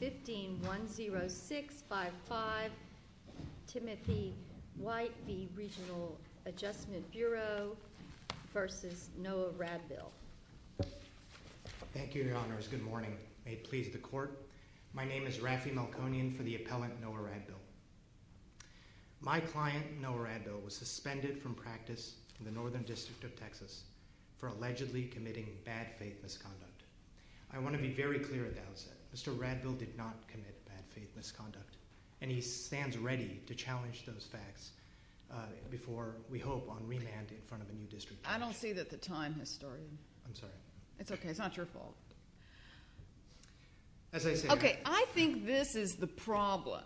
15-10655, Timothy White v. Regional Adjustment Bureau v. Noah Radville. Thank you, Your Honors. Good morning. I please the Court. My name is Rafi Malconian for the appellant Noah Radville. My client, Noah Radville, was suspended from practice in the Northern District of Texas for allegedly committing bad faith misconduct. I want to be very clear about that. Mr. Radville did not commit bad faith misconduct, and he stands ready to challenge those facts before, we hope, on remand in front of the District. I don't see that the time has started. I'm sorry. It's okay. It's not your fault. Okay, I think this is the problem,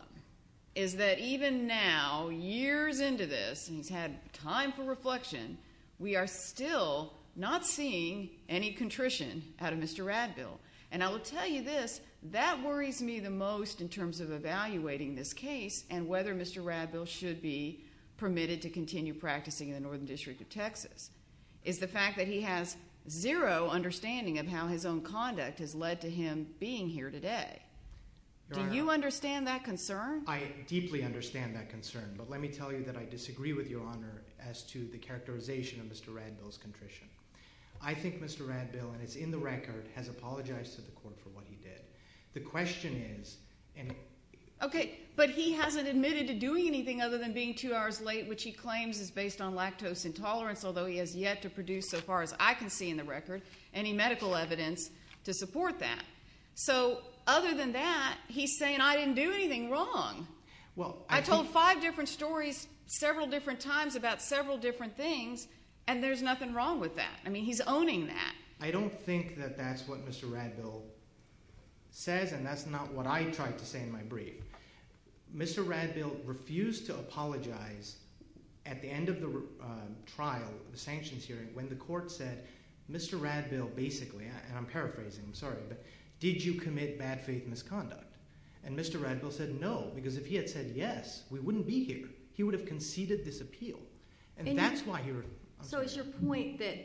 is that even now, years into this, and we've had time for reflection, we are still not seeing any contrition out of Mr. Radville. And I will tell you this, that worries me the most in terms of evaluating this case and whether Mr. Radville should be permitted to continue practicing in the Northern District of Texas. It's the fact that he has zero understanding of how his own conduct has led to him being here today. Do you understand that concern? I deeply understand that concern. But let me tell you that I disagree with Your Honor as to the characterization of Mr. Radville's contrition. I think Mr. Radville, and it's in the record, has apologized to the court for what he did. The question is— Okay, but he hasn't admitted to doing anything other than being two hours late, which he claims is based on lactose intolerance, although he has yet to produce, so far as I can see in the record, any medical evidence to support that. So other than that, he's saying I didn't do anything wrong. I told five different stories several different times about several different things, and there's nothing wrong with that. I mean he's owning that. I don't think that that's what Mr. Radville says, and that's not what I tried to say in my brief. Mr. Radville refused to apologize at the end of the trial, the sanctions hearing, when the court said Mr. Radville basically—and I'm paraphrasing, I'm sorry— did you commit bad faith misconduct? And Mr. Radville said no, because if he had said yes, we wouldn't be here. He would have conceded disappeal, and that's why he— So it's your point that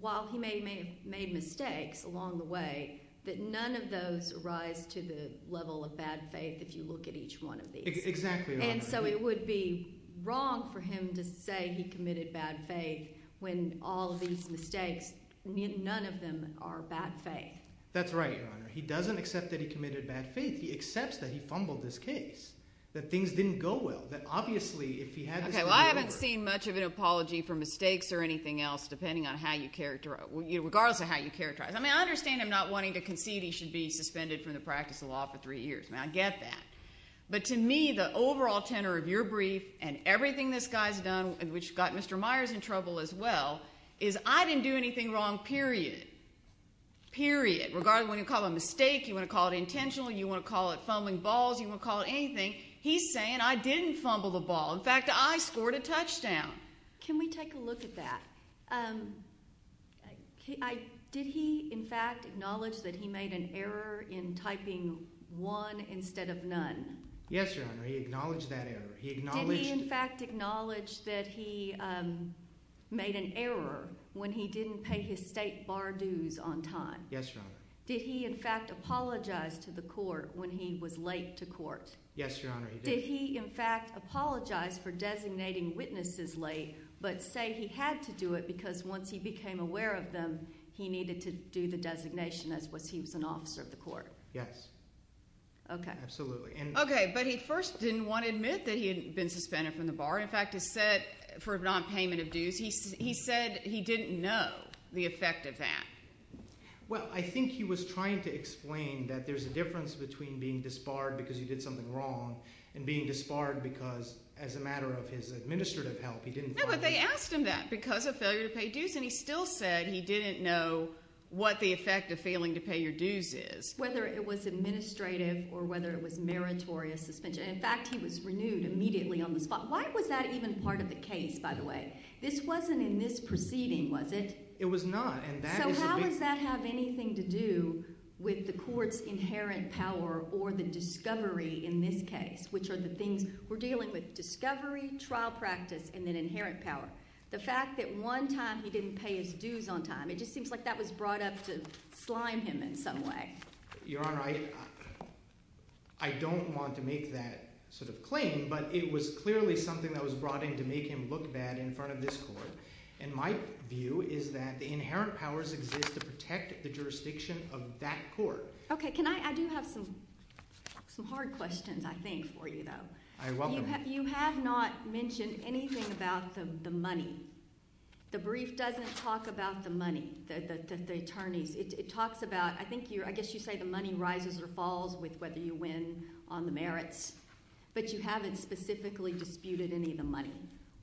while he may have made mistakes along the way, that none of those arrive to the level of bad faith if you look at each one of these. Exactly right. And so it would be wrong for him to say he committed bad faith when all of these mistakes, none of them are bad faith. That's right, Your Honor. He doesn't accept that he committed bad faith. He accepts that he fumbled his case, that things didn't go well, that obviously if he had— Okay, well I haven't seen much of an apology for mistakes or anything else, depending on how you characterize—regardless of how you characterize it. I mean I understand him not wanting to concede he should be suspended from the practice law for three years. I get that. But to me, the overall tenor of your brief and everything this guy's done, which got Mr. Myers in trouble as well, is I didn't do anything wrong, period. Period. Regardless of whether you call it a mistake, you want to call it intentional, you want to call it fumbling balls, you want to call it anything, he's saying I didn't fumble the ball. In fact, I scored a touchdown. Can we take a look at that? Did he, in fact, acknowledge that he made an error in typing one instead of none? Yes, Your Honor, he acknowledged that error. Did he, in fact, acknowledge that he made an error when he didn't pay his state bar dues on time? Yes, Your Honor. Did he, in fact, apologize to the court when he was late to court? Yes, Your Honor, he did. Did he, in fact, apologize for designating witnesses late, but say he had to do it because once he became aware of them, he needed to do the designation as if he was an officer of the court? Yes. Okay. Absolutely. Okay, but he first didn't want to admit that he had been suspended from the bar. In fact, he said for nonpayment of dues, he said he didn't know the effect of that. Well, I think he was trying to explain that there's a difference between being disbarred because he did something wrong and being disbarred because as a matter of his administrative help, he didn't pay his dues. No, but they asked him that because of failure to pay dues, and he still said he didn't know what the effect of failing to pay your dues is. Whether it was administrative or whether it was meritorious suspension. In fact, he was renewed immediately on the spot. Why was that even part of the case, by the way? This wasn't in this proceeding, was it? It was not. So how does that have anything to do with the court's inherent power or the discovery in this case, which are the things we're dealing with, discovery, trial practice, and then inherent power? The fact that one time he didn't pay his dues on time, it just seems like that was brought up to blind him in some way. Your Honor, I don't want to make that sort of claim, but it was clearly something that was brought in to make him look bad in front of this court. And my view is that the inherent powers exist to protect the jurisdiction of that court. Okay. I do have some hard questions, I think, for you, though. You have not mentioned anything about the money. The brief doesn't talk about the money, the attorneys. It talks about – I guess you say the money rises or falls with whether you win on the merits, but you haven't specifically disputed any of the money.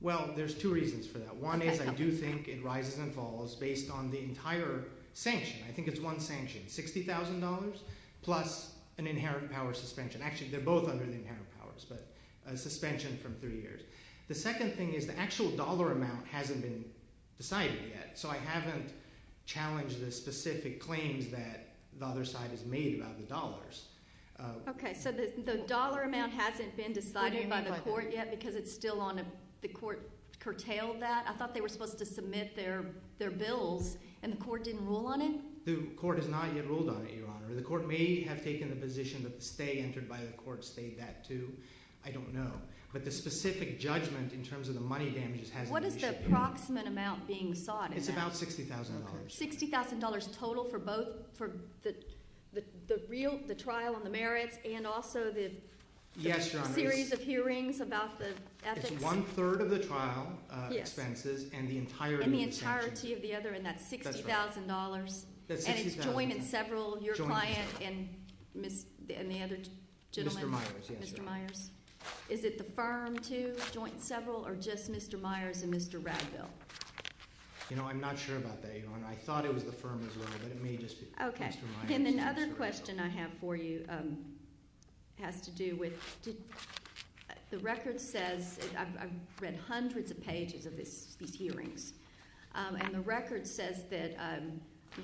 Well, there's two reasons for that. One is I do think it rises and falls based on the entire sanction. I think it's one sanction, $60,000 plus an inherent power suspension. Actually, they're both under the inherent powers, but a suspension from three years. The second thing is the actual dollar amount hasn't been decided yet, so I haven't challenged the specific claims that the other side has made about the dollars. Okay. So the dollar amount hasn't been decided by the court yet because it's still on a – the court curtailed that? I thought they were supposed to submit their bill, and the court didn't rule on it? The court has not ruled on it, Your Honor. The court may have taken the position that the stay entered by the court stayed that too. I don't know. But the specific judgment in terms of the money damages had to be – What is the approximate amount being sought? It's about $60,000. $60,000 total for both – for the real – the trial and the merits and also the series of hearings about the ethics? It's one-third of the trial expenses and the entirety of the sanction. And the entirety of the other, and that's $60,000? That's $60,000. And it's joined in several – your client and the other gentleman? Mr. Myers, yes, Your Honor. Mr. Myers? Is it the firm too, joined in several, or just Mr. Myers and Mr. Radville? You know, I'm not sure about that, Your Honor, and I thought it was the firm as well, but it may just be Mr. Myers. Okay. Tim, another question I have for you has to do with – the record says – I've read hundreds of pages of these hearings, and the record says that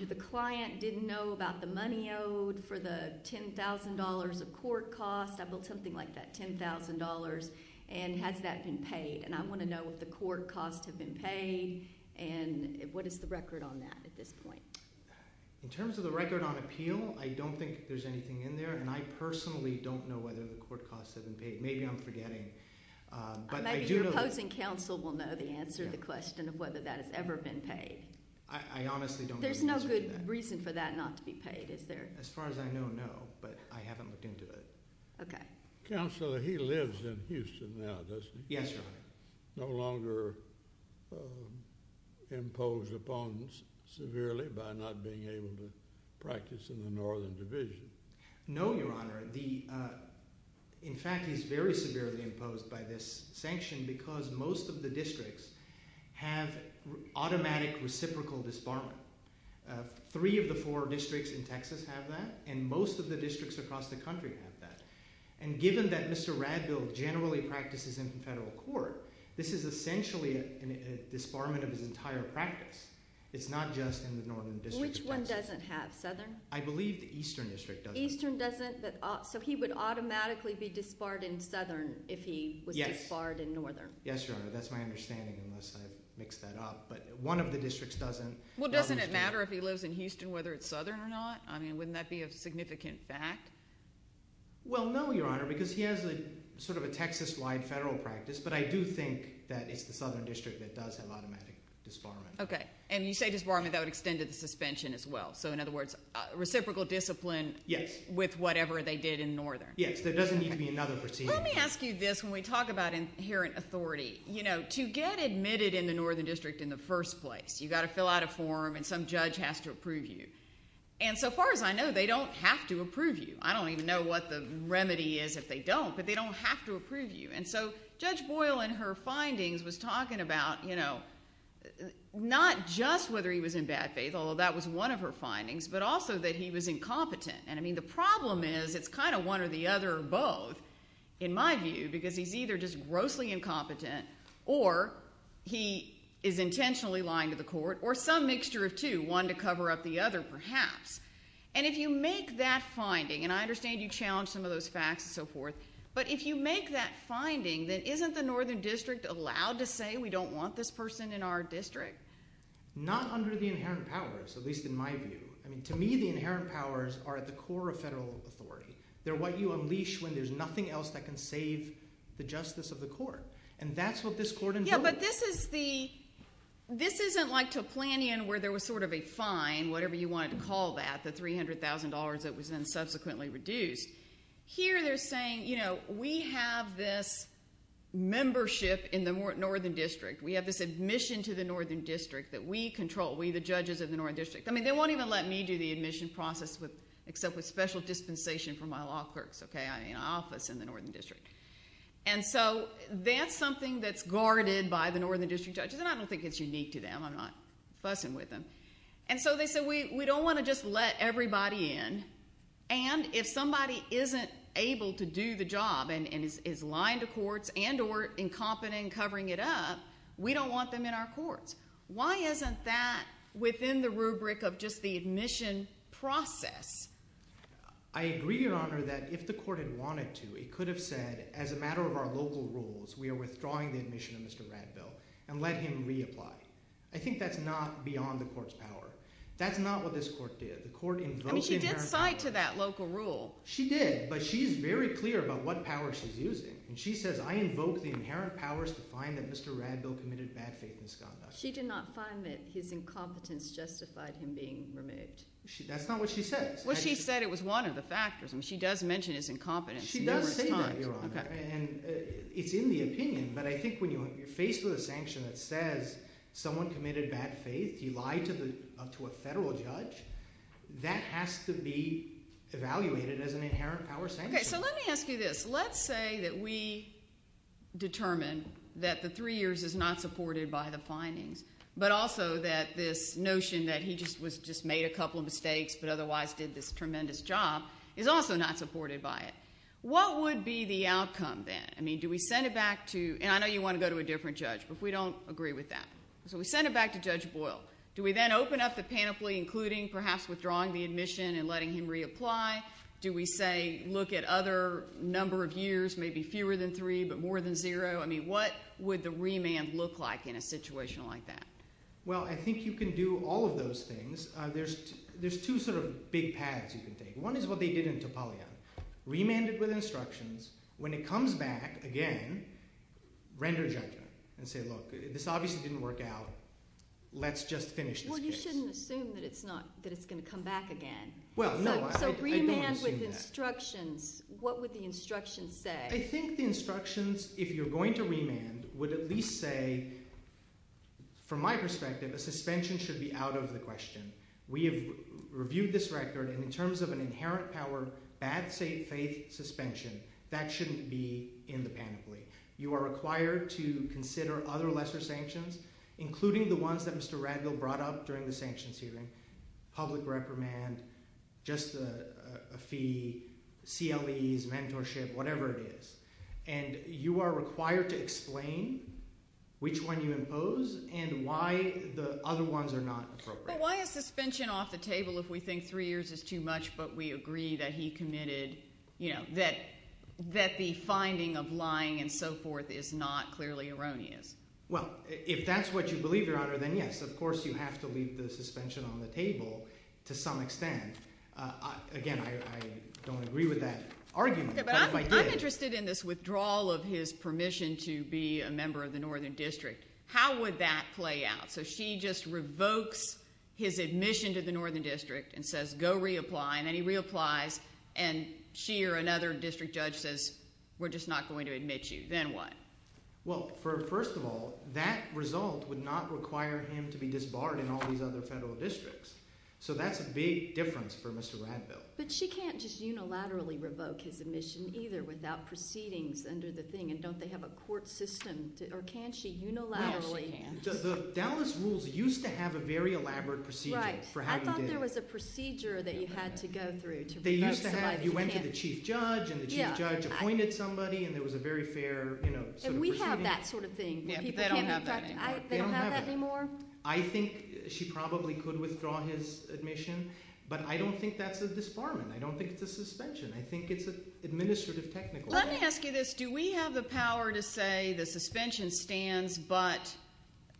the client didn't know about the money owed for the $10,000 of court costs, something like that, $10,000, and has that been paid? And I want to know if the court costs have been paid, and what is the record on that at this point? In terms of the record on appeal, I don't think there's anything in there, and I personally don't know whether the court costs have been paid. Maybe I'm forgetting. Maybe the opposing counsel will know the answer to the question of whether that has ever been paid. I honestly don't know. There's no good reason for that not to be paid, is there? As far as I know, no, but I haven't looked into it. Okay. Counselor, he lives in Houston now, doesn't he? Yes, Your Honor. No longer imposed upon severely by not being able to practice in the Northern Division? No, Your Honor. In fact, he's very severely imposed by this sanction because most of the districts have automatic reciprocal disbarment. Three of the four districts in Texas have that, and most of the districts across the country have that. And given that Mr. Radville generally practices in the federal court, this is essentially a disbarment of his entire practice. It's not just in the Northern District. Which one doesn't have Southern? I believe the Eastern District doesn't. Eastern doesn't? So he would automatically be disbarred in Southern if he was disbarred in Northern? Yes, Your Honor. That's my understanding, unless I've mixed that up. But one of the districts doesn't. Well, doesn't it matter if he lives in Houston whether it's Southern or not? I mean, wouldn't that be a significant fact? Well, no, Your Honor, because he has sort of a Texas-wide federal practice. But I do think that it's the Southern District that does have automatic disbarment. Okay. And you say disbarment, I would extend it to suspension as well. So, in other words, reciprocal discipline with whatever they did in Northern. Yes, there doesn't need to be another procedure. Let me ask you this. When we talk about inherent authority, you know, to get admitted in the Northern District in the first place, you've got to fill out a form and some judge has to approve you. And so far as I know, they don't have to approve you. I don't even know what the remedy is that they don't, but they don't have to approve you. And so Judge Boyle in her findings was talking about, you know, not just whether he was in bad faith, although that was one of her findings, but also that he was incompetent. And, I mean, the problem is it's kind of one or the other or both, in my view, because he's either just grossly incompetent or he is intentionally lying to the court or some mixture of two, one to cover up the other perhaps. And if you make that finding, and I understand you challenge some of those facts and so forth, but if you make that finding, then isn't the Northern District allowed to say we don't want this person in our district? Not under the inherent powers, at least in my view. I mean, to me, the inherent powers are at the core of federal authority. They're what you unleash when there's nothing else that can save the justice of the court. And that's what this court envisions. Yeah, but this is the – this isn't like a plan in where there was sort of a fine, whatever you wanted to call that, the $300,000 that was then subsequently reduced. Here they're saying, you know, we have this membership in the Northern District. We have this admission to the Northern District that we control. We, the judges in the Northern District. I mean, they won't even let me do the admission process except with special dispensation from my law clerks, okay, in my office in the Northern District. And so that's something that's guarded by the Northern District judges. And I don't think it's unique to them. I'm not fussing with them. And so they said we don't want to just let everybody in. And if somebody isn't able to do the job and is lying to courts and or incompetent in covering it up, we don't want them in our courts. Why isn't that within the rubric of just the admission process? I agree, Your Honor, that if the court had wanted to, it could have said, as a matter of our local rules, we are withdrawing the admission of Mr. Radville and let him reapply. I think that's not beyond the court's power. That's not what this court did. I mean, she did fight to that local rule. She did, but she's very clear about what power she's using. And she says, I invoke the inherent powers to find that Mr. Radville committed bad faith misconduct. She did not find that his incompetence justified him being removed. That's not what she said. Well, she said it was one of the factors, and she does mention his incompetence. She does say that, Your Honor, and it's in the opinion. But I think when you're faced with a sanction that says someone committed bad faith, he lies to a federal judge, that has to be evaluated as an inherent power sanction. Okay, so let me ask you this. Let's say that we determined that the three years is not supported by the findings, but also that this notion that he just made a couple of mistakes but otherwise did this tremendous job is also not supported by it. What would be the outcome then? I mean, do we send it back to – and I know you want to go to a different judge, but we don't agree with that. So we send it back to Judge Boyle. Do we then open up the pamphlet, including perhaps withdrawing the admission and letting him reapply? Do we, say, look at other number of years, maybe fewer than three but more than zero? I mean, what would the remand look like in a situation like that? Well, I think you can do all of those things. There's two sort of big paths you can take. One is what they did in Tapalia. Remanded with instructions. When it comes back again, render judgment and say, look, this obviously didn't work out. Let's just finish this. Well, you shouldn't assume that it's not – that it's going to come back again. Well, no, I don't assume that. So remanded with instructions. What would the instructions say? I think the instructions, if you're going to remand, would at least say, from my perspective, the suspension should be out of the question. We have reviewed this record, and in terms of an inherent power, bad faith suspension, that shouldn't be in the pamphlet. You are required to consider other lesser sanctions, including the ones that Mr. Randall brought up during the sanctions hearing. Public reprimand, just a fee, CLEs, mentorship, whatever it is. And you are required to explain which one you impose and why the other ones are not appropriate. Why a suspension off the table if we think three years is too much, but we agree that he committed – that the finding of lying and so forth is not clearly erroneous? Well, if that's what you believe, Your Honor, then yes, of course you have to leave the suspension on the table to some extent. Again, I don't agree with that argument, but if I did – I'm interested in this withdrawal of his permission to be a member of the Northern District. How would that play out? So she just revokes his admission to the Northern District and says go reapply, and then he reapplies, and she or another district judge says we're just not going to admit you. Then what? Well, first of all, that result would not require him to be disbarred in all these other federal districts. So that's a big difference for Mr. Radville. But she can't just unilaterally revoke his admission either without proceedings under the thing, and don't they have a court system? Or can she unilaterally? The Dallas rules used to have a very elaborate procedure for how you did it. I thought there was a procedure that you had to go through. They used to have – you went to the chief judge, and the chief judge appointed somebody, and it was a very fair – And we have that sort of thing. They don't have that anymore? I think she probably could withdraw his admission, but I don't think that's a disbarment. I don't think it's a suspension. I think it's administrative technical. Let me ask you this. Do we have the power to say the suspension stands but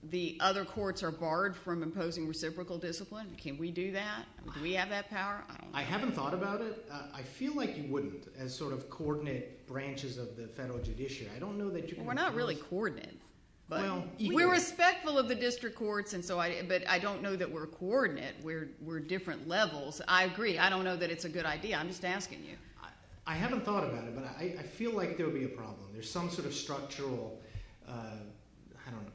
the other courts are barred from imposing reciprocal discipline? Can we do that? Do we have that power? I haven't thought about it. I feel like you would as sort of coordinate branches of the federal judiciary. I don't know that you can do that. We're not really coordinate. We're respectful of the district courts, but I don't know that we're coordinate. We're different levels. I agree. I don't know that it's a good idea. I'm just asking you. I haven't thought about it, but I feel like there would be a problem. There's some sort of structural –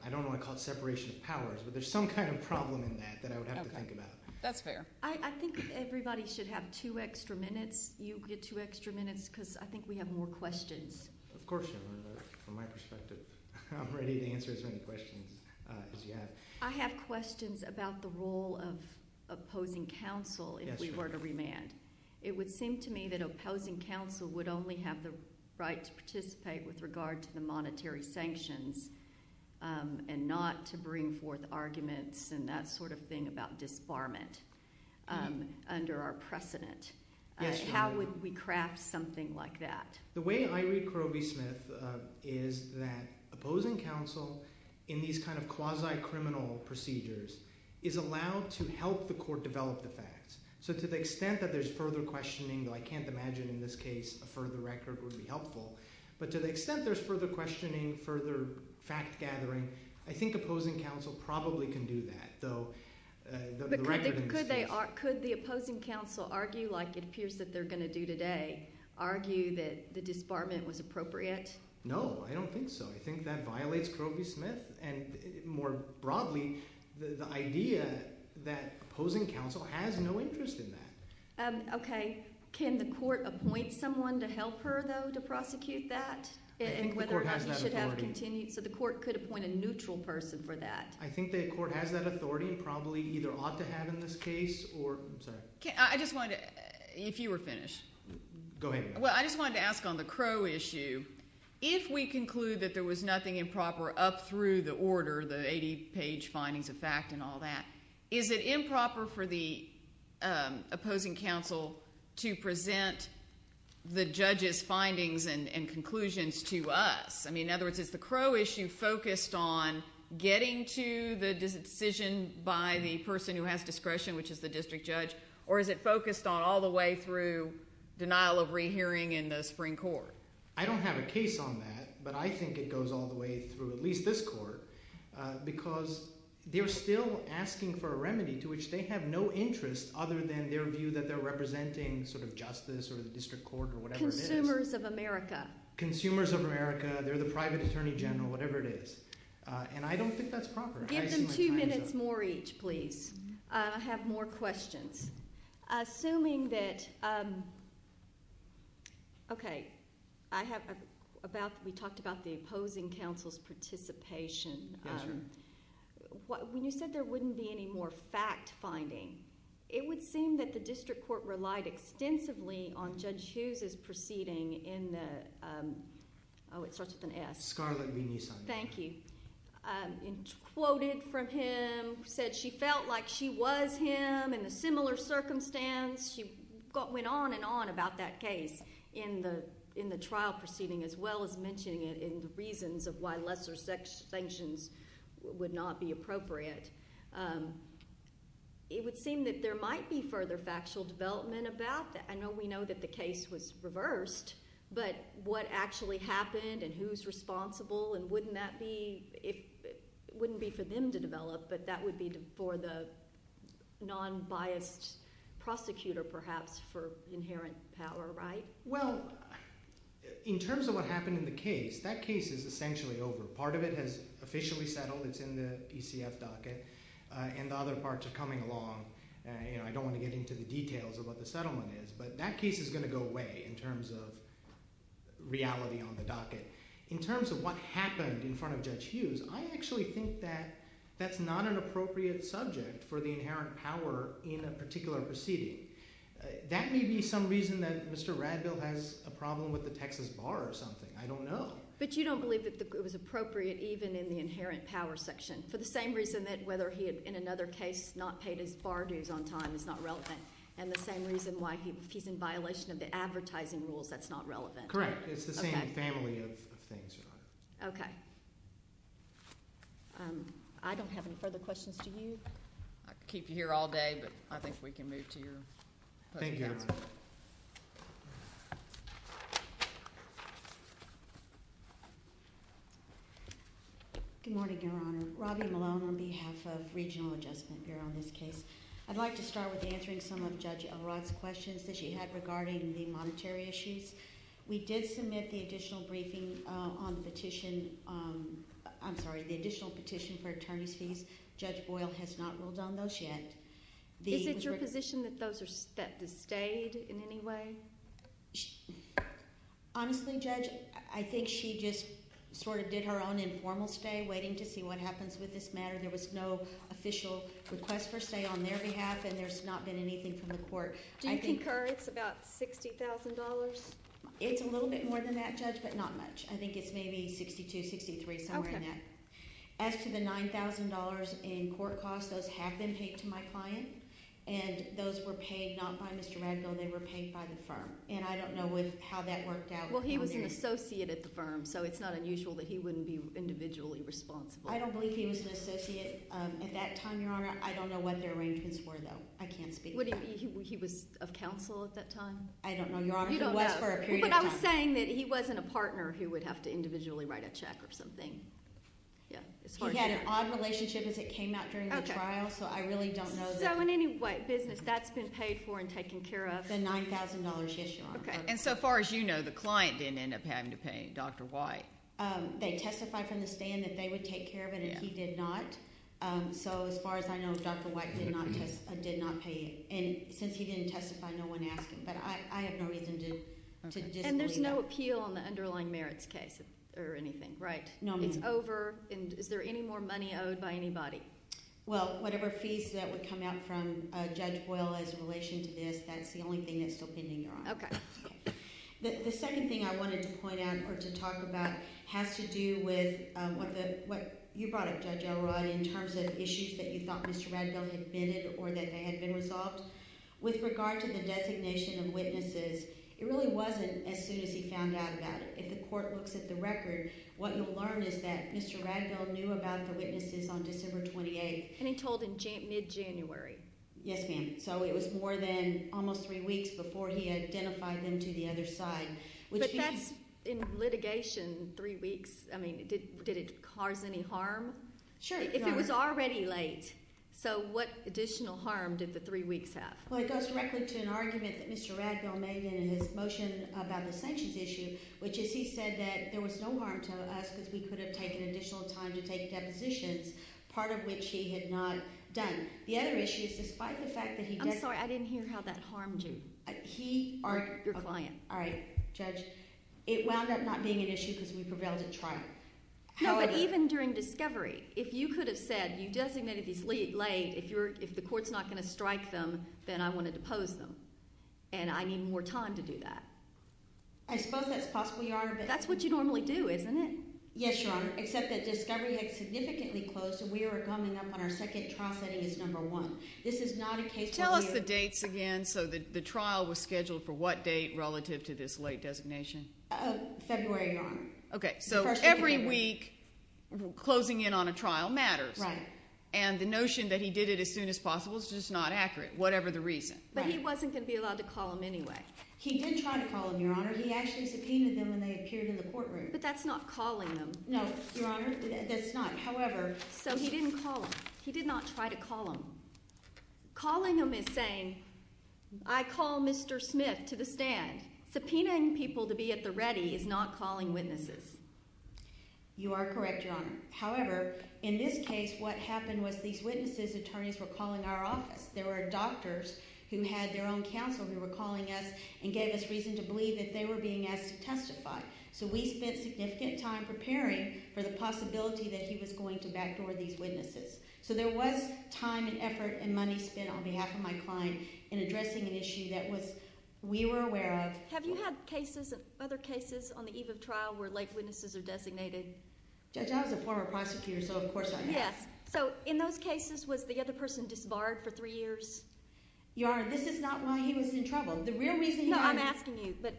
I don't want to call it separation of powers, but there's some kind of problem in that that I would have to think about. That's fair. I think everybody should have two extra minutes. You get two extra minutes because I think we have more questions. Of course, from my perspective. I'm ready to answer as many questions as you have. I have questions about the role of opposing counsel if we were to remand. It would seem to me that opposing counsel would only have the right to participate with regard to the monetary sanctions and not to bring forth arguments and that sort of thing about disbarment under our precedent. How would we craft something like that? The way I read Coral B. Smith is that opposing counsel in these kind of quasi-criminal procedures is allowed to help the court develop the facts. So to the extent that there's further questioning, though I can't imagine in this case a further record would be helpful, but to the extent there's further questioning, further fact-gathering, I think opposing counsel probably can do that. Could the opposing counsel argue like it appears that they're going to do today, argue that the disbarment was appropriate? No, I don't think so. I think that violates Coral B. Smith. And more broadly, the idea that opposing counsel has no interest in that. Okay. Can the court appoint someone to help her, though, to prosecute that? I think the court has that authority. So the court could appoint a neutral person for that. I think the court has that authority, probably either ought to have in this case. I just wanted to, if you were finished. Go ahead. Well, I just wanted to ask on the Crow issue, if we conclude that there was nothing improper up through the order, the 80-page findings of fact and all that, is it improper for the opposing counsel to present the judge's findings and conclusions to us? I mean, in other words, is the Crow issue focused on getting to the decision by the person who has discretion, which is the district judge, or is it focused on all the way through denial of rehearing in the Supreme Court? I don't have a case on that, but I think it goes all the way through at least this court, because they're still asking for a remedy to which they have no interest, other than their view that they're representing sort of justice or the district court or whatever it is. Consumers of America. Consumers of America, they're the private attorney general, whatever it is. And I don't think that's proper. Give them two minutes more each, please. I have more questions. Assuming that – okay. We talked about the opposing counsel's participation. When you said there wouldn't be any more fact-finding, it would seem that the district court relied extensively on Judge Hughes' proceeding in the – oh, it starts with an S. Scarlett Meaney's finding. Thank you. Quoted from him, said she felt like she was him in a similar circumstance. She went on and on about that case in the trial proceeding, as well as mentioning it in the reasons of why lesser sanctions would not be appropriate. It would seem that there might be further factual development about that. I know we know that the case was reversed, but what actually happened and who's responsible and wouldn't that be – it wouldn't be for them to develop, but that would be for the non-biased prosecutor perhaps for inherent power, right? Well, in terms of what happened in the case, that case is essentially over. Part of it has officially settled. It's in the ECF docket. And other parts are coming along. I don't want to get into the details of what the settlement is, but in terms of what happened in front of Judge Hughes, I actually think that that's not an appropriate subject for the inherent power in a particular proceeding. That may be some reason that Mr. Raddoe has a problem with the Texas bar or something. I don't know. But you don't believe it was appropriate even in the inherent power section, for the same reason that whether he had in another case not paid his bar dues on time is not relevant, and the same reason why he's in violation of the advertising rules, that's not relevant. Correct. It's the same family of things. Okay. I don't have any further questions to you. I could keep you here all day, but I think we can move to your question. Thank you. Good morning, Your Honor. Robbie Lowe on behalf of Regional Adjustment Bureau in this case. I'd like to start with answering some of Judge Elrod's questions that she had regarding the monetary issues. We did submit the additional briefing on the petition. I'm sorry, the additional petition for attorneyship. Judge Boyle has not ruled on those yet. Is it your position that those are set to stay in any way? Honestly, Judge, I think she just sort of did her own informal stay, waiting to see what happens with this matter. There was no official request for stay on their behalf, and there's not been anything from the court. Do you concur it's about $60,000? It's a little bit more than that, Judge, but not much. I think it's maybe $62,000, $63,000, somewhere in there. Okay. As to the $9,000 in court costs, those have been taken to my client, and those were paid not by Mr. Randall, they were paid by the firm. And I don't know how that worked out. Well, he was your associate at the firm, so it's not unusual that he wouldn't be individually responsible. I don't believe he was an associate at that time, Your Honor. I don't know what their arrangements were, though. I can't speak to that. He was a counsel at that time? I don't know, Your Honor. But I was saying that he wasn't a partner who would have to individually write a check or something. He had an odd relationship as it came out during the trial, so I really don't know. So, I mean, what business? That's been paid for and taken care of. The $9,000 issue. Okay. And so far as you know, the client didn't end up having to pay Dr. White. They testified from the stand that they would take care of it, and he did not. So as far as I know, Dr. White did not pay. And since he didn't testify, no one asked him. But I have no reason to disagree. And there's no appeal on the underlying merits case or anything, right? No, ma'am. It's over. Is there any more money owed by anybody? Well, whatever fees that would come out from Judge Boyle in relation to this, that's the only thing that's still pending, Your Honor. Okay. The second thing I wanted to point out or to talk about has to do with what you brought up, Judge Elrod, in terms of issues that you thought Mr. Ragdale had vented or that had been resolved. With regard to the designation of witnesses, it really wasn't as soon as he found out about it. If the court looks at the record, what we learned is that Mr. Ragdale knew about the witnesses on December 28th. And he told him mid-January. Yes, ma'am. So it was more than almost three weeks before he identified them to the other side. But that's in litigation, three weeks. I mean, did it cause any harm? Sure. If it was already late. So what additional harm did the three weeks have? Well, it goes directly to an argument that Mr. Ragdale made in his motion about the sanctions issue, which is he said that there was no harm to us if we could have taken additional time to take depositions, part of which he had not done. The other issue is despite the fact that he did— I'm sorry, I didn't hear how that harmed you. A key arc of violence. All right, Judge. It wound up not being an issue because we prevailed in trial. No, but even during discovery. If you could have said, you designated these late, if the court's not going to strike them, then I want to depose them. And I need more time to do that. I suppose that's possible, Your Honor. That's what you normally do, isn't it? Yes, Your Honor. Except that discovery had significantly closed and we were coming up on our second trial setting as number one. This is not a case where we— Tell us the dates again so that the trial was scheduled for what date relative to this late designation. February, Your Honor. Okay, so every week closing in on a trial matters. Right. And the notion that he did it as soon as possible is just not accurate, whatever the reason. But he wasn't going to be allowed to call them anyway. He did try to call them, Your Honor. He actually subpoenaed them when they appeared in the courtroom. But that's not calling them. No, Your Honor, that's not. However— So he didn't call them. He did not try to call them. Calling them is saying, I call Mr. Smith to the stand. Subpoenaing people to be at the ready is not calling witnesses. You are correct, Your Honor. However, in this case, what happened was these witnesses' attorneys were calling our office. There were doctors who had their own counsel who were calling us and gave us reason to believe that they were being asked to testify. So we spent significant time preparing for the possibility that he was going to backdoor these witnesses. So there was time and effort and money spent on behalf of my client in addressing an issue that we were aware of. Have you had other cases on the eve of trial where late witnesses are designated? I was a former prosecutor, so of course I have. So in those cases, was the other person just barred for three years? Your Honor, this is not why he was in trouble. The real reason— I'm asking you, but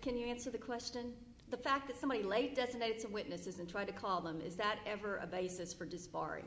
can you answer the question? The fact that somebody late designates the witnesses and tries to call them, is that ever a basis for disbarring?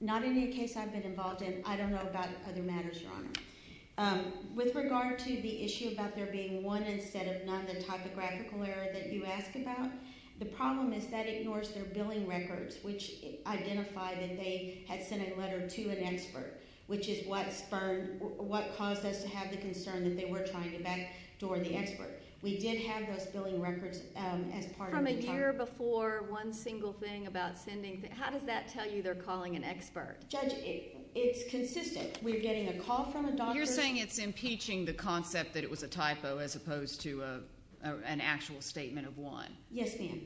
Not in the case I've been involved in. I don't know about other matters, Your Honor. With regard to the issue about there being one instead of another typographical error that you asked about, the problem is that it endorsed their billing records, which identified that they had sent a letter to an expert, which is what caused us to have the concern that they were trying to backdoor the experts. We did have those billing records as part of the— From a year before, one single thing about sending—how does that tell you they're calling an expert? Judge, it's consistent. We're getting a call from a doctor— You're saying it's impeaching the concept that it was a typo as opposed to an actual statement of one. Yes, ma'am.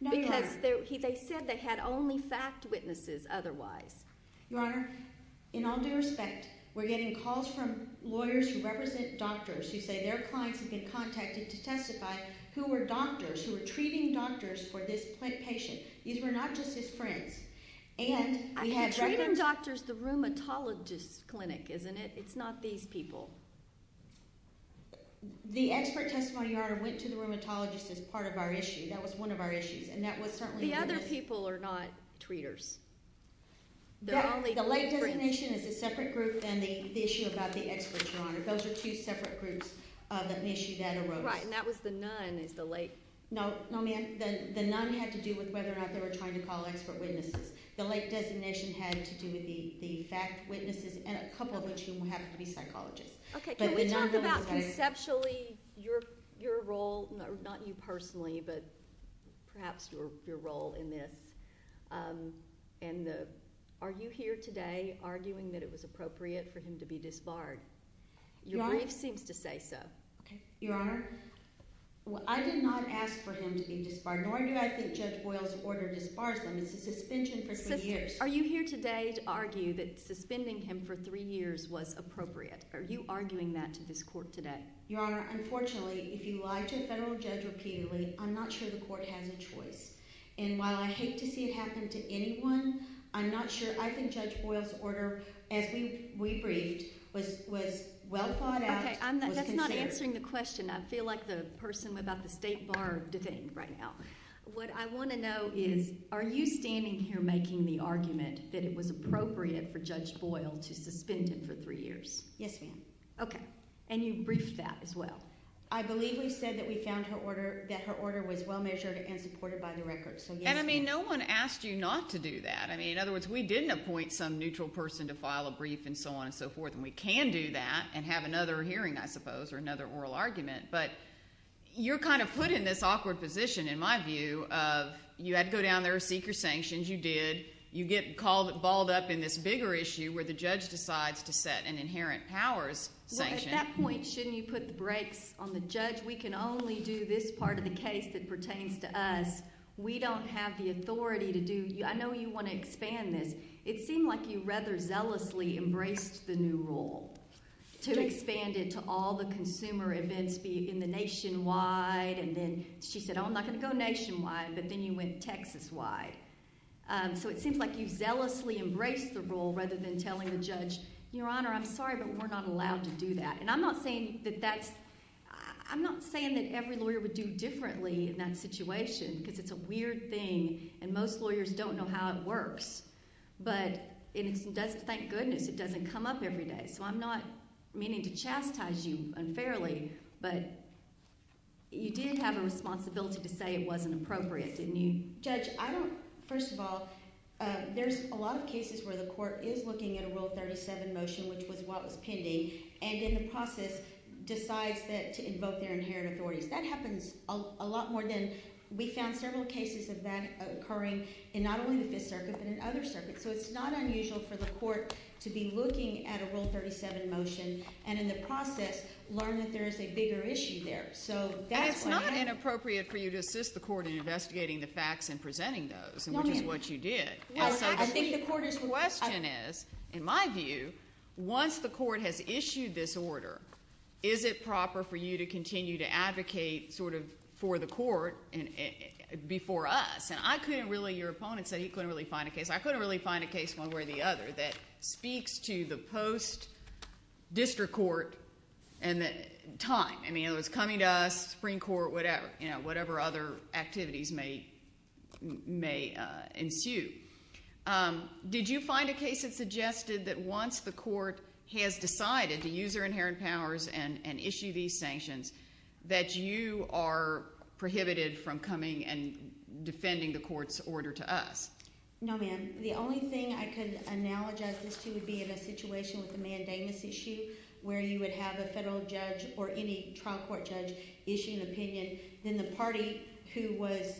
No, Your Honor. They said they had only fact witnesses otherwise. Your Honor, in all due respect, we're getting calls from lawyers who represent doctors. We say they're fine to get contacted to testify who were doctors, who were treating doctors for this patient. These were not just his friends. And we had— You're treating doctors at the rheumatologist clinic, isn't it? It's not these people. The expert testimony, Your Honor, went to the rheumatologist as part of our issue. That was one of our issues, and that was certainly— The other people are not treaters. They're only— The late designation is a separate group, and the issue about the experts, Your Honor. Those are two separate groups of an issue that arose. Right, and that was the none is the late— No, ma'am. The none had to do with whether or not they were trying to call expert witnesses. The late designation had to do with the fact witnesses, and a couple of them have to be psychologists. Okay. Conceptually, your role—not you personally, but perhaps your role in this. And are you here today arguing that it was appropriate for him to be disbarred? Your Grace seems to say so. Your Honor, I did not ask for him to be disbarred, nor did I suggest Boyle's order to disbar him. It's a suspension for three years. Are you here today to argue that suspending him for three years was appropriate? Are you arguing that to this court today? Your Honor, unfortunately, if you lie to a federal judge repeatedly, I'm not sure the court has a choice. And while I hate to see it happen to anyone, I'm not sure—I think Judge Boyle's order, as we briefed, was well thought out— Okay, that's not answering the question. I feel like the person about the state bar debate right now. What I want to know is, are you standing here making the argument that it was appropriate for Judge Boyle to suspend him for three years? Yes, ma'am. Okay, and you briefed that as well. I believe we said that we found that her order was well measured and supported by the records. And, I mean, no one asked you not to do that. I mean, in other words, we didn't appoint some neutral person to file a brief and so on and so forth, and we can do that and have another hearing, I suppose, or another oral argument. But you're kind of put in this awkward position, in my view, of you had to go down there, seek your sanctions. You did. You get called—balled up in this bigger issue where the judge decides to set an inherent powers sanction. Well, at that point, shouldn't you put the brakes on the judge? We can only do this part of the case that pertains to us. We don't have the authority to do—I know you want to expand this. It seemed like you rather zealously embraced the new rule to expand it to all the consumer events in the nationwide. And then she said, oh, I'm not going to go nationwide, but then you went Texas-wide. So it seems like you zealously embraced the rule rather than telling the judge, Your Honor, I'm sorry, but we're not allowed to do that. And I'm not saying that that's—I'm not saying that every lawyer would do differently in that situation because it's a weird thing, and most lawyers don't know how it works. But it doesn't—thank goodness it doesn't come up every day. So I'm not meaning to chastise you unfairly, but you did have a responsibility to say it wasn't appropriate. Didn't you? Judge, I don't—first of all, there's a lot of cases where the court is looking at a Rule 37 motion, which was what was pending, and then the process decides to invoke their inherent authority. That happens a lot more than—we found several cases of that occurring in not only the Fifth Circuit but in other circuits. So it's not unusual for the court to be looking at a Rule 37 motion and in the process learn that there is a bigger issue there. So that's why— It's not inappropriate for you to assist the court in investigating the facts and presenting those and looking at what you did. I think the court is— The question is, in my view, once the court has issued this order, is it proper for you to continue to advocate sort of for the court before us? And I couldn't really—your opponent said he couldn't really find a case. I couldn't really find a case one way or the other that speaks to the post-district court time. I mean, it was coming to us, Supreme Court, whatever other activities may ensue. Did you find a case that suggested that once the court has decided to use their inherent powers and issue these sanctions, that you are prohibited from coming and defending the court's order to us? No, ma'am. The only thing I could analogize this to would be in a situation with a mandamus issue where you would have a federal judge or any trial court judge issue an opinion, then the party who was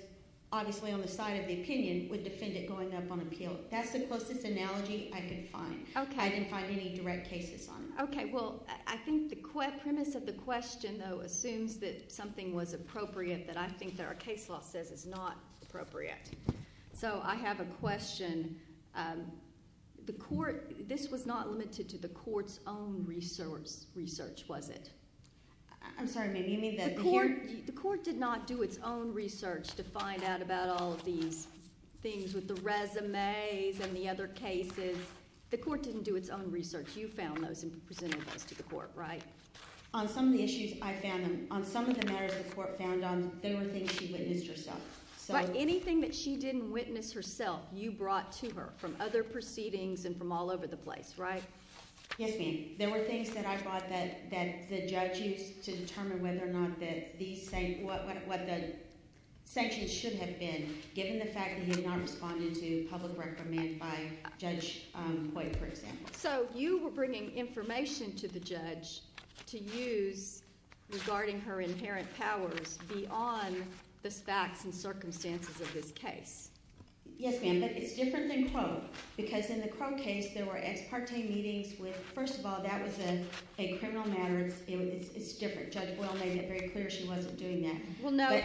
obviously on the side of the opinion would defend it going up on appeal. That's the closest analogy I could find. Okay. I couldn't find any direct cases on that. Okay. Well, I think the premise of the question, though, assumes that something was appropriate, but I think that our case law says it's not appropriate. So I have a question. The court—this was not limited to the court's own research, was it? I'm sorry, ma'am. You mean that the court— The court did not do its own research to find out about all of these things with the resumes and the other cases. The court didn't do its own research. You found those and presented those to the court, right? On some of the issues I found, on some of the matters the court found, they were things she didn't interest us. But anything that she didn't witness herself, you brought to her from other proceedings and from all over the place, right? Yes, ma'am. There were things that I thought that the judge used to determine whether or not that these things—what those sections should have been, given the fact that you weren't responding to public reprimands by Judge Coy, for example. So you were bringing information to the judge to use regarding her inherent powers beyond the facts and circumstances of this case. Yes, ma'am. But it's different than Crow. Because in the Crow case, there were ex parte meetings where, first of all, that was done in a criminal manner, and it's different. Judge Coy made it very clear she wasn't doing that. Well, no.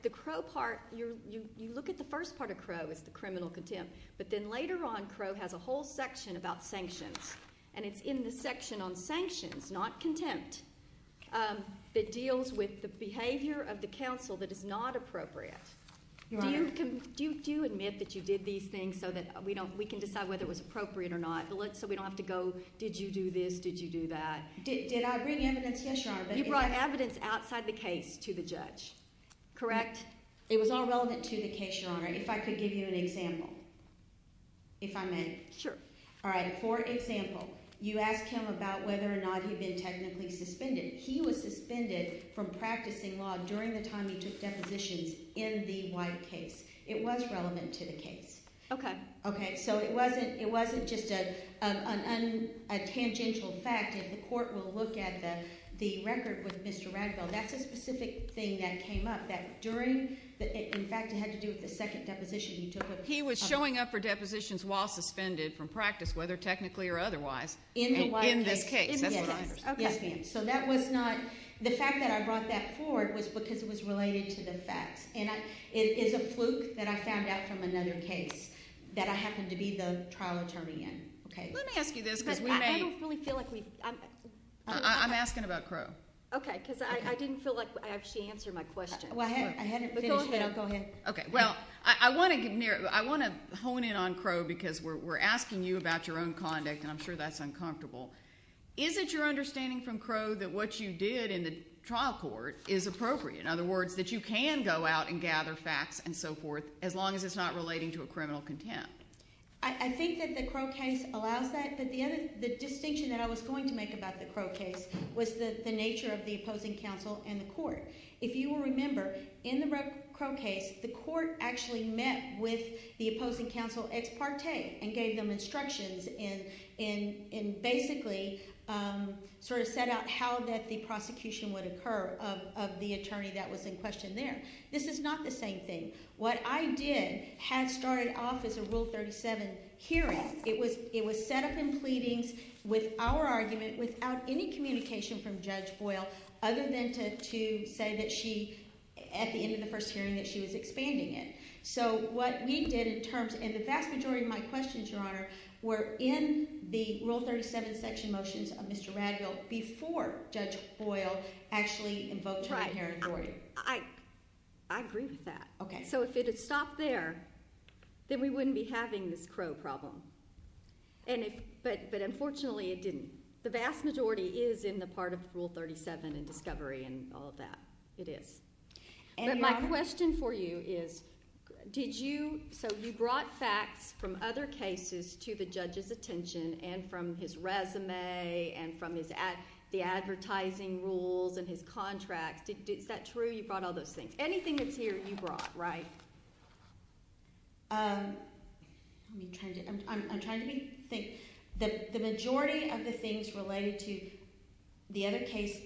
The Crow part—you look at the first part of Crow, it's the criminal contempt. But then later on, Crow has a whole section about sanctions, and it's in the section on sanctions, not contempt, that deals with the behavior of the counsel that is not appropriate. Do you admit that you did these things so that we can decide whether it was appropriate or not, so we don't have to go, did you do this, did you do that? Did I bring evidence? You brought evidence outside the case to the judge, correct? It was all relevant to the case, Your Honor. If I could give you an example, if I may. Sure. All right. For example, you asked him about whether or not he had been technically suspended. He was suspended from practicing law during the time he took deposition in the White case. It was relevant to the case. Okay. Okay. So it wasn't just a tangential fact that the court will look at the record with Mr. Redfield. That's a specific thing that came up that during, in fact, it had to do with the second deposition he took at the time. He was showing up for depositions while suspended from practice, whether technically or otherwise. In the White case. In this case. Okay. So that was not, the fact that I brought that forward was because it was related to this fact. And it's a fluke that I found out from another case that I happened to be the trial attorney in. Let me ask you this because we may. I don't really feel like we. I'm asking about Crow. Okay. Because I didn't feel like I actually answered my question. Go ahead. Go ahead. Okay. Well, I want to hone in on Crow because we're asking you about your own conduct, and I'm sure that's uncomfortable. Is it your understanding from Crow that what you did in the trial court is appropriate? In other words, that you can go out and gather facts and so forth as long as it's not relating to a criminal contempt? I think that the Crow case allows that. The distinction that I was going to make about the Crow case was the nature of the opposing counsel and the court. If you will remember, in the Crow case, the court actually met with the opposing counsel ex parte and gave him instructions and basically sort of set out how that the prosecution would occur of the attorney that was in question there. This is not the same thing. What I did had started off as a Rule 37 hearing. It was set up in pleadings with our argument without any communication from Judge Boyle other than to say that she, at the end of the first hearing, that she was expanding it. So what we did in terms of, in the vast majority of my questions, Your Honor, were in the Rule 37 section motions of Mr. Raddell before Judge Boyle actually invoked her in her inquiry. Right. I agree with that. Okay. So if it had stopped there, then we wouldn't be having this Crow problem. But unfortunately, it didn't. The vast majority is in the part of Rule 37 and discovery and all of that. It is. But my question for you is, did you, so you brought facts from other cases to the judge's attention and from his resume and from the advertising rules and his contracts. Is that true? You brought all those things. Anything that's here, you brought, right? I'm trying to think. The majority of the things related to the other case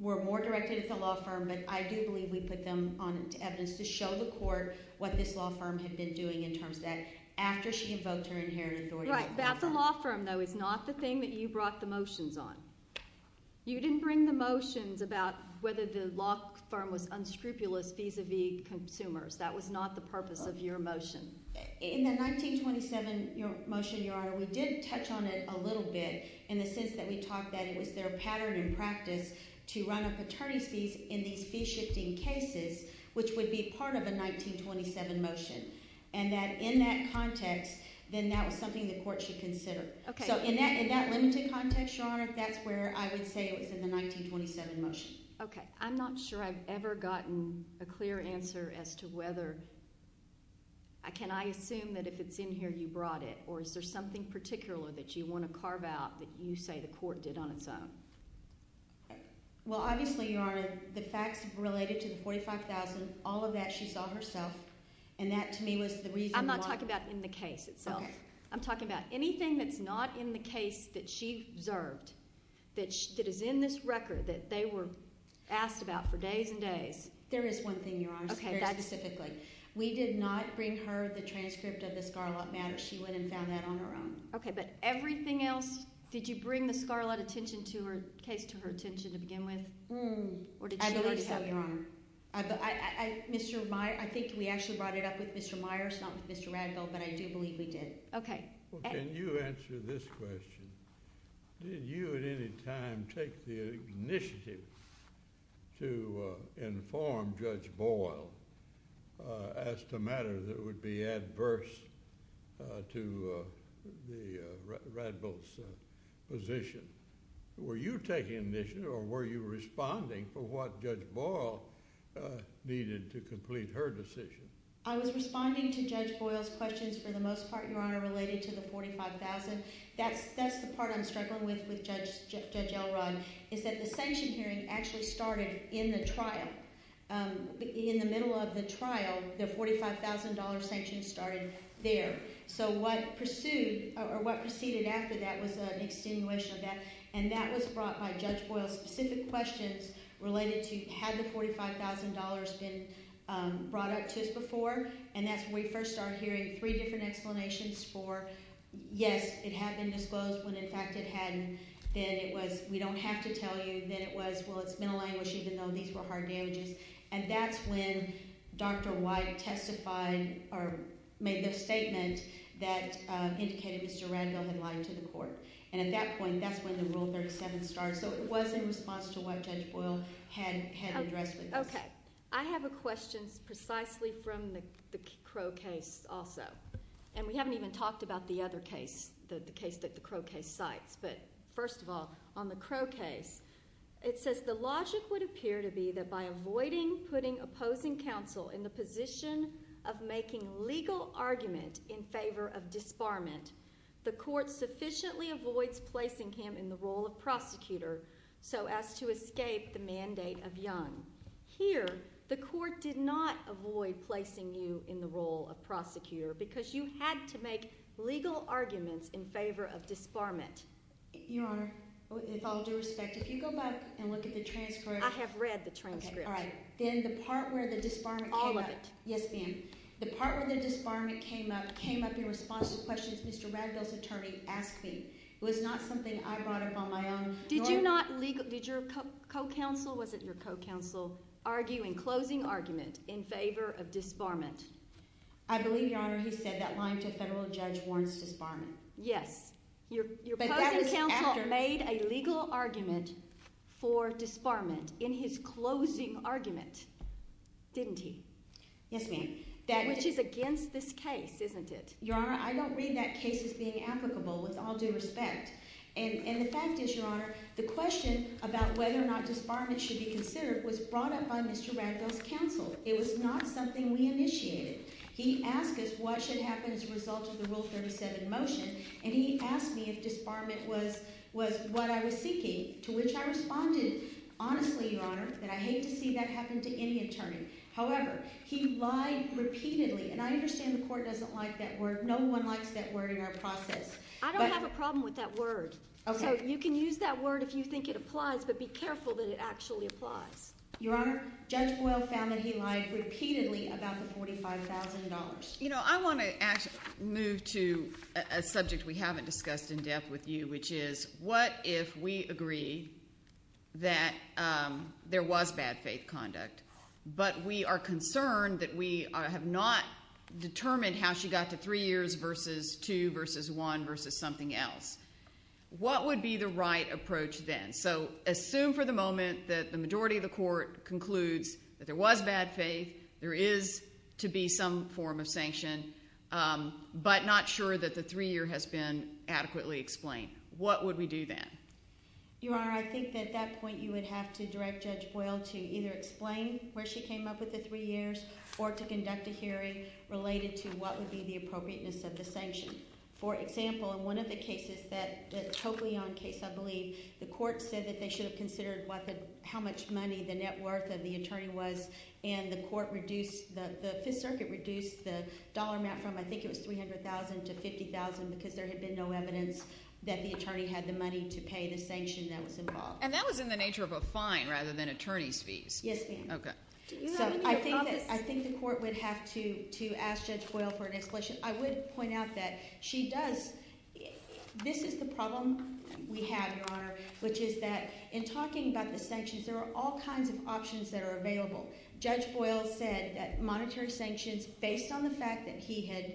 were more directed to the law firm, but I do believe we put them on evidence to show the court what this law firm had been doing in terms that after she invoked her in her inquiry. Right. That's the law firm, though. It's not the thing that you brought the motions on. You didn't bring the motions about whether the law firm was unscrupulous vis-a-vis consumers. That was not the purpose of your motion. In the 1927 motion, Your Honor, we did touch on it a little bit in the sense that we talked that it was their pattern in practice to run up attorney seats in these fee-shifting cases, which would be part of a 1927 motion, and that in that context, then that was something the court should consider. Okay. So in that limited context, Your Honor, that's where I would say it was in the 1927 motion. Okay. I'm not sure I've ever gotten a clear answer as to whether, can I assume that if it's in here, you brought it, or is there something particular that you want to carve out that you say the court did on its own? Well, obviously, Your Honor, the fact related to the $45,000, all of that she saw herself, and that to me was the reason why. I'm not talking about in the case itself. I'm talking about anything that's not in the case that she observed that is in this record that they were asked about for days and days. There is one thing, Your Honor, very specifically. We did not bring her the transcript of the scarlet match. She went and found that on her own. Okay. But everything else, did you bring the scarlet case to her attention to begin with? I believe so, Your Honor. I think we actually brought it up with Mr. Myers, not with Mr. Radmel, but I do believe we did. Okay. Can you answer this question? Did you at any time take the initiative to inform Judge Boyle as to matters that would be adverse to Radmel's position? Were you taking initiative or were you responding for what Judge Boyle needed to complete her decision? I was responding to Judge Boyle's questions for the most part, Your Honor, related to the $45,000. That's the part I'm struggling with with Judge Elrod is that the sanction hearing actually started in the trial. In the middle of the trial, the $45,000 sanction started there. So what pursued or what proceeded after that was an extenuation of that, and that was brought by Judge Boyle's specific questions related to, has the $45,000 been brought up to this before? And that's when we first started hearing three different explanations for, yes, it had been disclosed, but in fact it hadn't. Then it was, we don't have to tell you that it was, well, it's mental language, even though these were hard damages. And that's when Dr. White testified or made a statement that indicated surrender of the line to the court. And at that point, that's when the Rule 37 started. So it was in response to what Judge Boyle had addressed. Okay. I have a question precisely from the Crow case also. And we haven't even talked about the other case, the case that the Crow case cites. But first of all, on the Crow case, it says, the logic would appear to be that by avoiding putting opposing counsel in the position of making legal arguments in favor of disbarment, the court sufficiently avoids placing him in the role of prosecutor so as to escape the mandate of Young. Here, the court did not avoid placing you in the role of prosecutor because you had to make legal arguments in favor of disbarment. Your Honor, with all due respect, if you go back and look at the transcript. I have read the transcript. All right. Then the part where the disbarment came up. All of it. Yes, ma'am. The part where the disbarment came up, came up in response to questions Mr. Vazquez's attorney asked me. It was not something I brought up on my own. Did you not – did your co-counsel, was it your co-counsel, argue in closing argument in favor of disbarment? I believe, Your Honor, he said that one of the federal judge warrants disbarment. Yes. Your closing counsel made a legal argument for disbarment in his closing argument, didn't he? Yes, ma'am. Which is against this case, isn't it? Your Honor, I don't read that case as being applicable with all due respect. And the fact is, Your Honor, the question about whether or not disbarment should be considered was brought up by Mr. Vazquez's counsel. It was not something we initiated. He asked us what should happen as a result of the rule 37 motion, and he asked me if disbarment was what I was seeking, to which I responded, honestly, Your Honor, that I hate to see that happen to any attorney. However, he lied repeatedly, and I understand the court doesn't like that word. No one likes that word in our process. I don't have a problem with that word. You can use that word if you think it applies, but be careful that it actually applies. Your Honor, Judge Boyle found that he lied repeatedly about the $45,000. You know, I want to move to a subject we haven't discussed in depth with you, which is what if we agree that there was bad faith conduct, but we are concerned that we have not determined how she got to three years versus two versus one versus something else. What would be the right approach then? So assume for the moment that the majority of the court concludes that there was bad faith, there is to be some form of sanction, but not sure that the three-year has been adequately explained. What would we do then? Your Honor, I think at that point you would have to direct Judge Boyle to either explain where she came up with the three years or to conduct a hearing related to what would be the appropriateness of the sanctions. For example, in one of the cases, the Toclion case, I believe, the court said that they should have considered how much money the net worth of the attorney was, and the court reduced, the Fifth Circuit reduced the dollar amount from I think it was $300,000 to $50,000 because there had been no evidence that the attorney had the money to pay the sanctions that was involved. And that was in the nature of a fine rather than attorney fees. Yes, it was. Okay. So I think the court would have to ask Judge Boyle for an explanation. I would point out that she does – this is the problem we have, Your Honor, which is that in talking about the sanctions, there are all kinds of options that are available. Judge Boyle said that the monetary sanctions, based on the fact that he had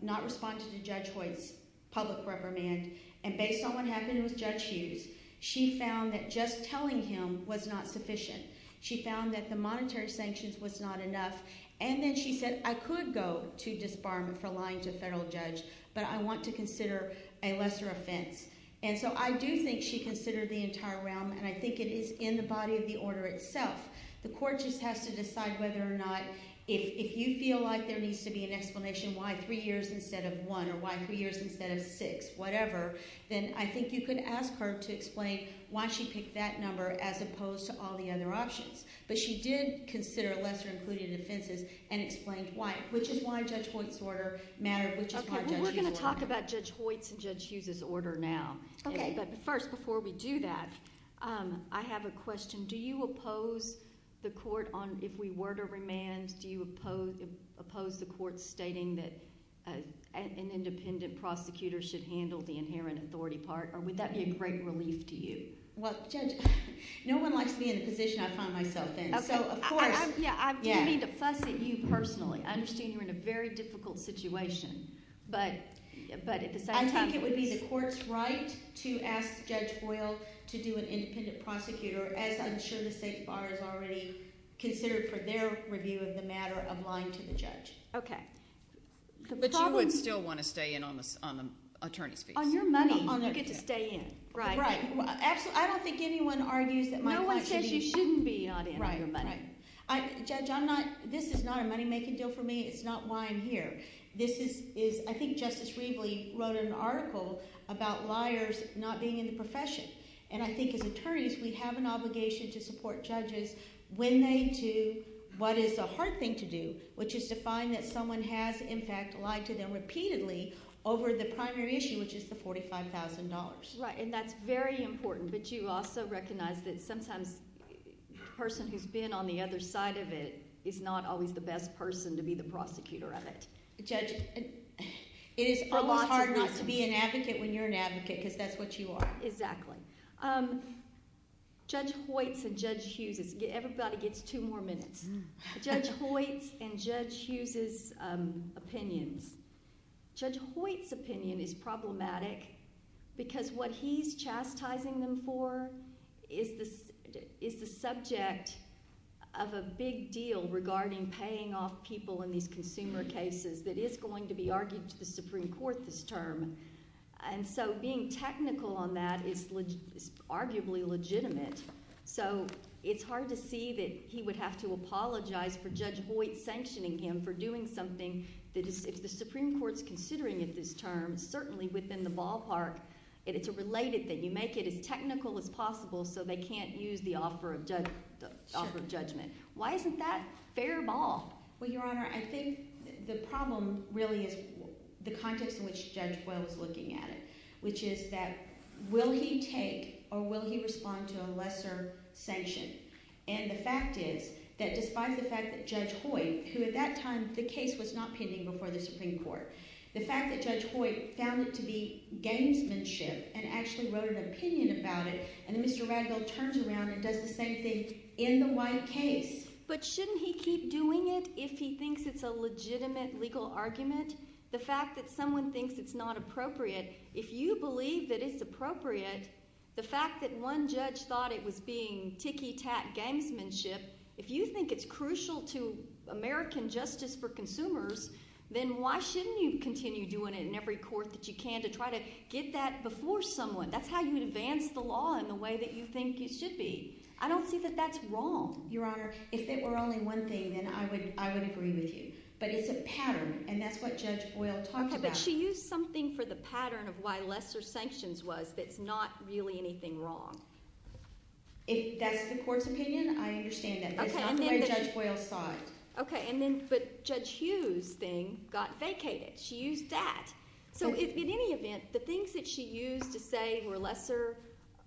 not responded to Judge Boyle's public reprimand, and based on what happened in the judge sheet, she found that just telling him was not sufficient. She found that the monetary sanctions was not enough, and then she said, I could go to disbar him for lying to a federal judge, but I want to consider a lesser offense. And so I do think she considered the entire realm, and I think it is in the body of the order itself. The court just has to decide whether or not – if you feel like there needs to be an explanation, why three years instead of one, or why three years instead of six, whatever, then I think you could ask her to explain why she picked that number as opposed to all the other options. But she did consider lesser included offenses and explain why, which is why Judge Boyle's order matters. Okay. We're going to talk about Judge Boyle's and Judge Hughes' order now. Okay. But first, before we do that, I have a question. Do you oppose the court on – if we were to remand, do you oppose the court stating that an independent prosecutor should handle the inherent authority part, or would that be a great relief to you? Well, Judge, no one likes to be in a position to find myself in. Of course. Yeah. To me, the plus is you personally. I'm seeing her in a very difficult situation. I think it would be the court's right to ask Judge Boyle to do an independent prosecutor, as I'm sure the State Department has already considered for their review of the matter of lying to the judge. Okay. But she would still want to stay in on the attorney fee. On your money, you get to stay in. Right. I don't think anyone argues that my attorney fee – No one says you shouldn't be on the attorney fee. Right, right. Judge, I'm not – this is not a money-making deal for me. It's not why I'm here. This is – I think Justice Rieble wrote an article about liars not being in the profession, and I think it's the truth. We have an obligation to support judges when they do what is the hard thing to do, which is to find that someone has, in fact, lied to them repeatedly over the primary issue, which is the $45,000. Right, and that's very important. But you also recognize that sometimes the person who's been on the other side of it is not always the best person to be the prosecutor of it. Judge, it is a lot harder to be an advocate when you're an advocate because that's what you are. Exactly. Judge Hoyts and Judge Hughes – everybody gets two more minutes. Judge Hoyts and Judge Hughes' opinions. Judge Hoyts' opinion is problematic because what he's chastising them for is the subject of a big deal regarding paying off people in these consumer cases that is going to be argued to the Supreme Court this term. And so being technical on that is arguably legitimate. So it's hard to see that he would have to apologize for Judge Hoyts sanctioning him for doing something that if the Supreme Court is considering it this term, certainly within the ballpark, it is related that you make it as technical as possible so they can't use the offer of judgment. Why isn't that fair of all? Well, Your Honor, I think the problem really is the context in which Judge Hoyt was looking at it, which is that will he take or will he respond to a lesser sanction? And the fact is that despite the fact that Judge Hoyts, who at that time the case was not pending before the Supreme Court, the fact that Judge Hoyt found it to be gangsmanship and actually wrote an opinion about it and then Mr. Rangel turns around and does the same thing in the white case. But shouldn't he keep doing it if he thinks it's a legitimate legal argument? The fact that someone thinks it's not appropriate, if you believe that it's appropriate, the fact that one judge thought it was being ticky-tack gangsmanship, if you think it's crucial to American justice for consumers, then why shouldn't you continue doing it in every court that you can to try to get that before someone? That's how you advance the law in the way that you think it should be. I don't see that that's wrong. Your Honor, if it were only one thing, then I would agree with you. But it's a pattern, and that's what Judge Hoyt talked about. Okay, but she used something for the pattern of why lesser sanctions was that's not really anything wrong. If that's the court's opinion, I understand that. But it's not the way Judge Hoyt thought. Okay, but Judge Hughes' thing got vacated. She used that. So in any event, the things that she used to say were lesser,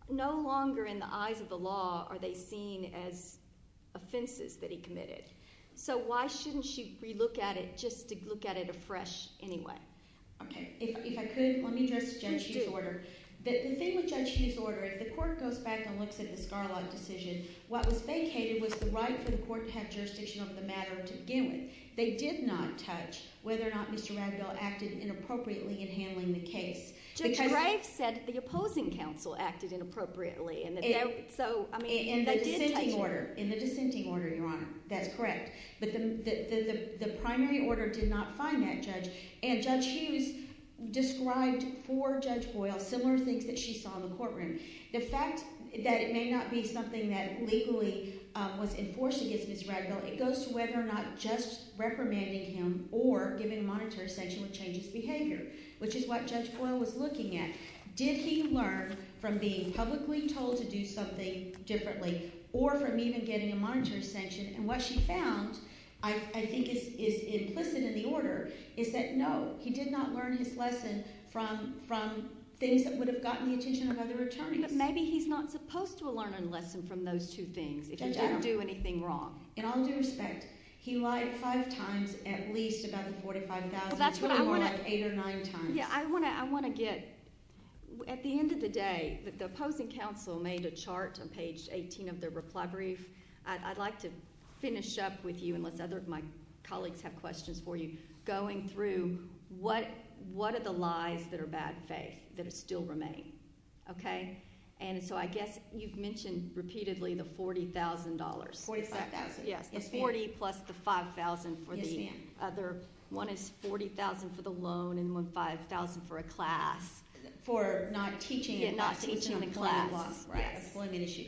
no longer in the eyes of the law are they seen as offenses that he committed. So why shouldn't she relook at it just to look at it afresh anyway? Okay, if I could, let me go to Judge Hughes' order. The thing with Judge Hughes' order, if the court goes back and looks at the Garland decision, what was vacated was the right for the court to have jurisdiction over the matter of the given. They did not touch whether or not Mr. Radville acted inappropriately in handling the case. Judge, I write that the opposing counsel acted inappropriately. In the dissenting order, Your Honor, that's correct. The primary order did not find that judge. And Judge Hughes described for Judge Boyle similar things that she saw in the courtroom. The fact that it may not be something that legally was enforced against Mr. Radville, it goes to whether or not Judge reprimanding him or giving a monitor station would change his behavior, which is what Judge Boyle was looking at. Did he learn from being publicly told to do something differently or from even getting a monitor station? And what she found, I think it's listed in the order, is that no, he did not learn his lesson from things that would have gotten the attention of other attorneys. But maybe he's not supposed to learn a lesson from those two things if he didn't do anything wrong. In all due respect, he lied five times, at least about 45,000 times, eight or nine times. Yeah, I want to get – at the end of the day, the opposing counsel made a chart on page 18 of their reply brief. I'd like to finish up with you, unless other of my colleagues have questions for you, going through what are the lies that are bad faith that still remain, okay? And so I guess you've mentioned repeatedly the $40,000. $45,000. Yeah, the $40,000 plus the $5,000 for the other – one is $40,000 for the loan and one $5,000 for a class. For not teaching the class. Yeah, not teaching the class. Right, that's one of the issues.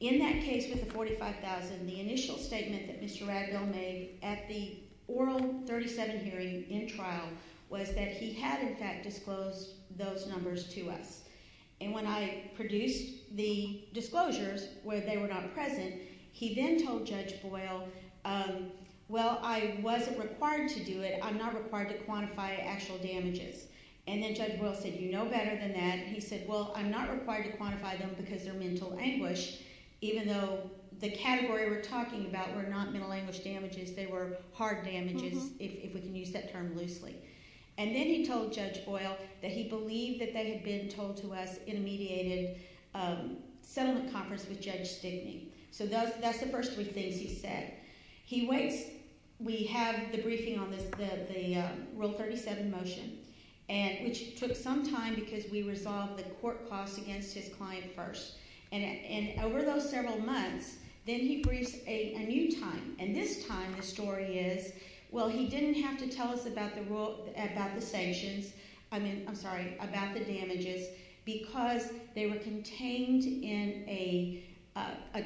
In that case with the $45,000, the initial statement that Mr. Raddell made at the oral 37 hearing in trial was that he had, in fact, disclosed those numbers to us. And when I produced the disclosures where they were not present, he then told Judge Boyle, well, I wasn't required to do it. I'm not required to quantify actual damages. And then Judge Boyle said, you know better than that. And he said, well, I'm not required to quantify them because they're mental anguish, even though the category we're talking about were not mental anguish damages. They were hard damages, if we can use that term loosely. And then he told Judge Boyle that he believed that they had been told to us in a mediated settlement conference with Judge Stigney. So that's the first thing he said. He waits. We have the briefing on the oral 37 motion. And it took some time because we resolved the court costs against his client first. And over those several months, then he briefed a new time. And this time the story is, well, he didn't have to tell us about the damages because they were contained in a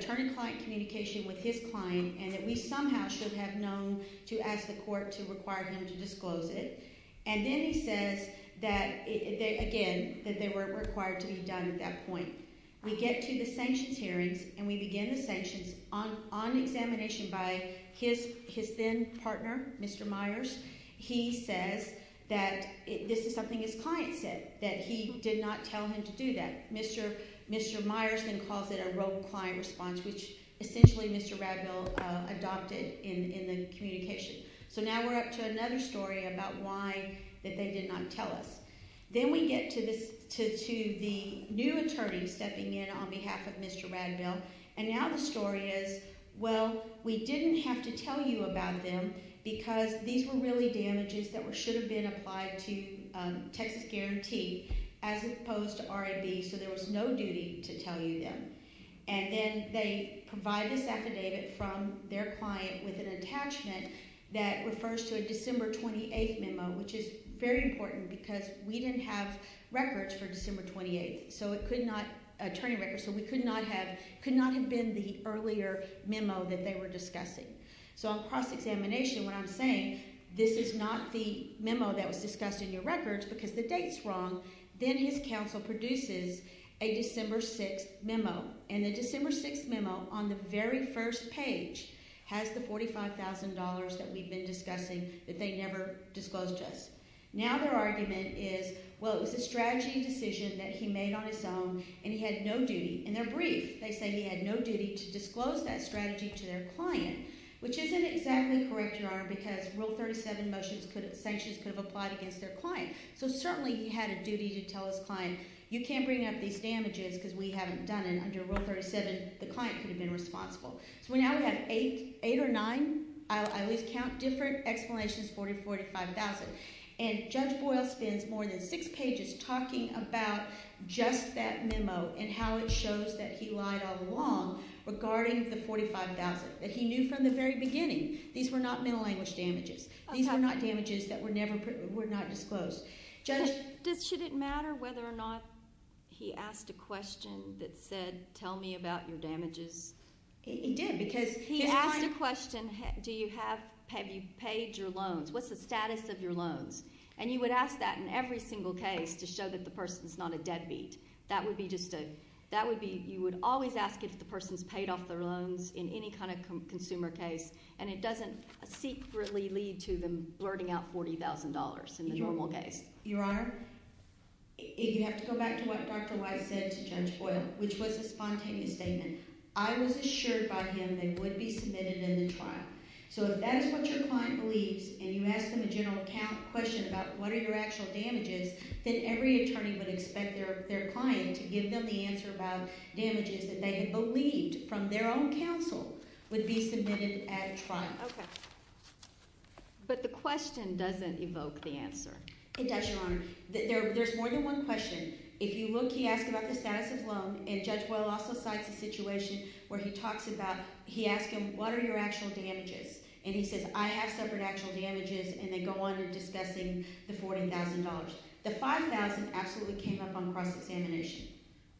term client communication with his client. And that we somehow should have known to ask the court to require him to disclose it. And then he says that, again, that they weren't required to be done at that point. We get to the sanctions hearing and we begin the sanctions. On examination by his then partner, Mr. Myers, he says that this is something his client said, that he did not tell him to do that. Mr. Myerson calls it a rogue client response, which essentially Mr. Raddell adopted in the communication. So now we're up to another story about why they did not tell us. Then we get to the new attorney stepping in on behalf of Mr. Raddell. And now the story is, well, we didn't have to tell you about them because these were really damages that should have been applied to Texas Guarantee as opposed to RID. So there was no duty to tell you them. And then they provide this affidavit from their client with an attachment that refers to a December 28 memo, which is very important because we didn't have records for December 28, attorney records. So we could not have been the earlier memo that they were discussing. So on top examination, what I'm saying, this is not the memo that was discussed in your records because the date's wrong. Then his counsel produces a December 6 memo. And the December 6 memo on the very first page has the $45,000 that we've been discussing that they never disclosed to us. Now their argument is, well, it was a strategy decision that he made on his own and he had no duty. In their brief, they say he had no duty to disclose that strategy to their client, which isn't exactly correct, Your Honor, because Rule 37 motions put sanctions to have applied against their client. So certainly he had a duty to tell his client, you can't bring up these damages because we haven't done it. Under Rule 37, the client could have been responsible. So we now have eight or nine, I would count different exclamations, 44 to 5,000. And Judge Boyle spent more than six pages talking about just that memo and how it shows that he lied all along regarding the $45,000 that he knew from the very beginning. These were not memo language damages. These were not damages that were not disclosed. Judge? Did it matter whether or not he asked a question that said, tell me about your damages? He asked a question, have you paid your loans? What's the status of your loans? And you would ask that in every single case to show that the person's not a deadbeat. That would be just a, that would be, you would always ask if the person's paid off their loans in any kind of consumer case. And it doesn't secretly lead to them blurting out $40,000 in a normal case. Your Honor, if you have to go back to what Dr. White said to Judge Boyle, which was a spontaneous statement, I was assured by him they would be committed in this trial. So if that is what your client believes and you ask them a general account question about what are your actual damages, then every attorney would expect their client to give them the answer about damages that they believed from their own counsel would be submitted at trial. Okay. But the question doesn't evoke the answer. It does, Your Honor. There's more than one question. If you look, he asked about the status of loans, and Judge Boyle also cites a situation where he talks about, he asked him, what are your actual damages? And he says, I have separate actual damages, and then go on to discussing the $40,000. The $5,000 absolutely came up on the crime examination.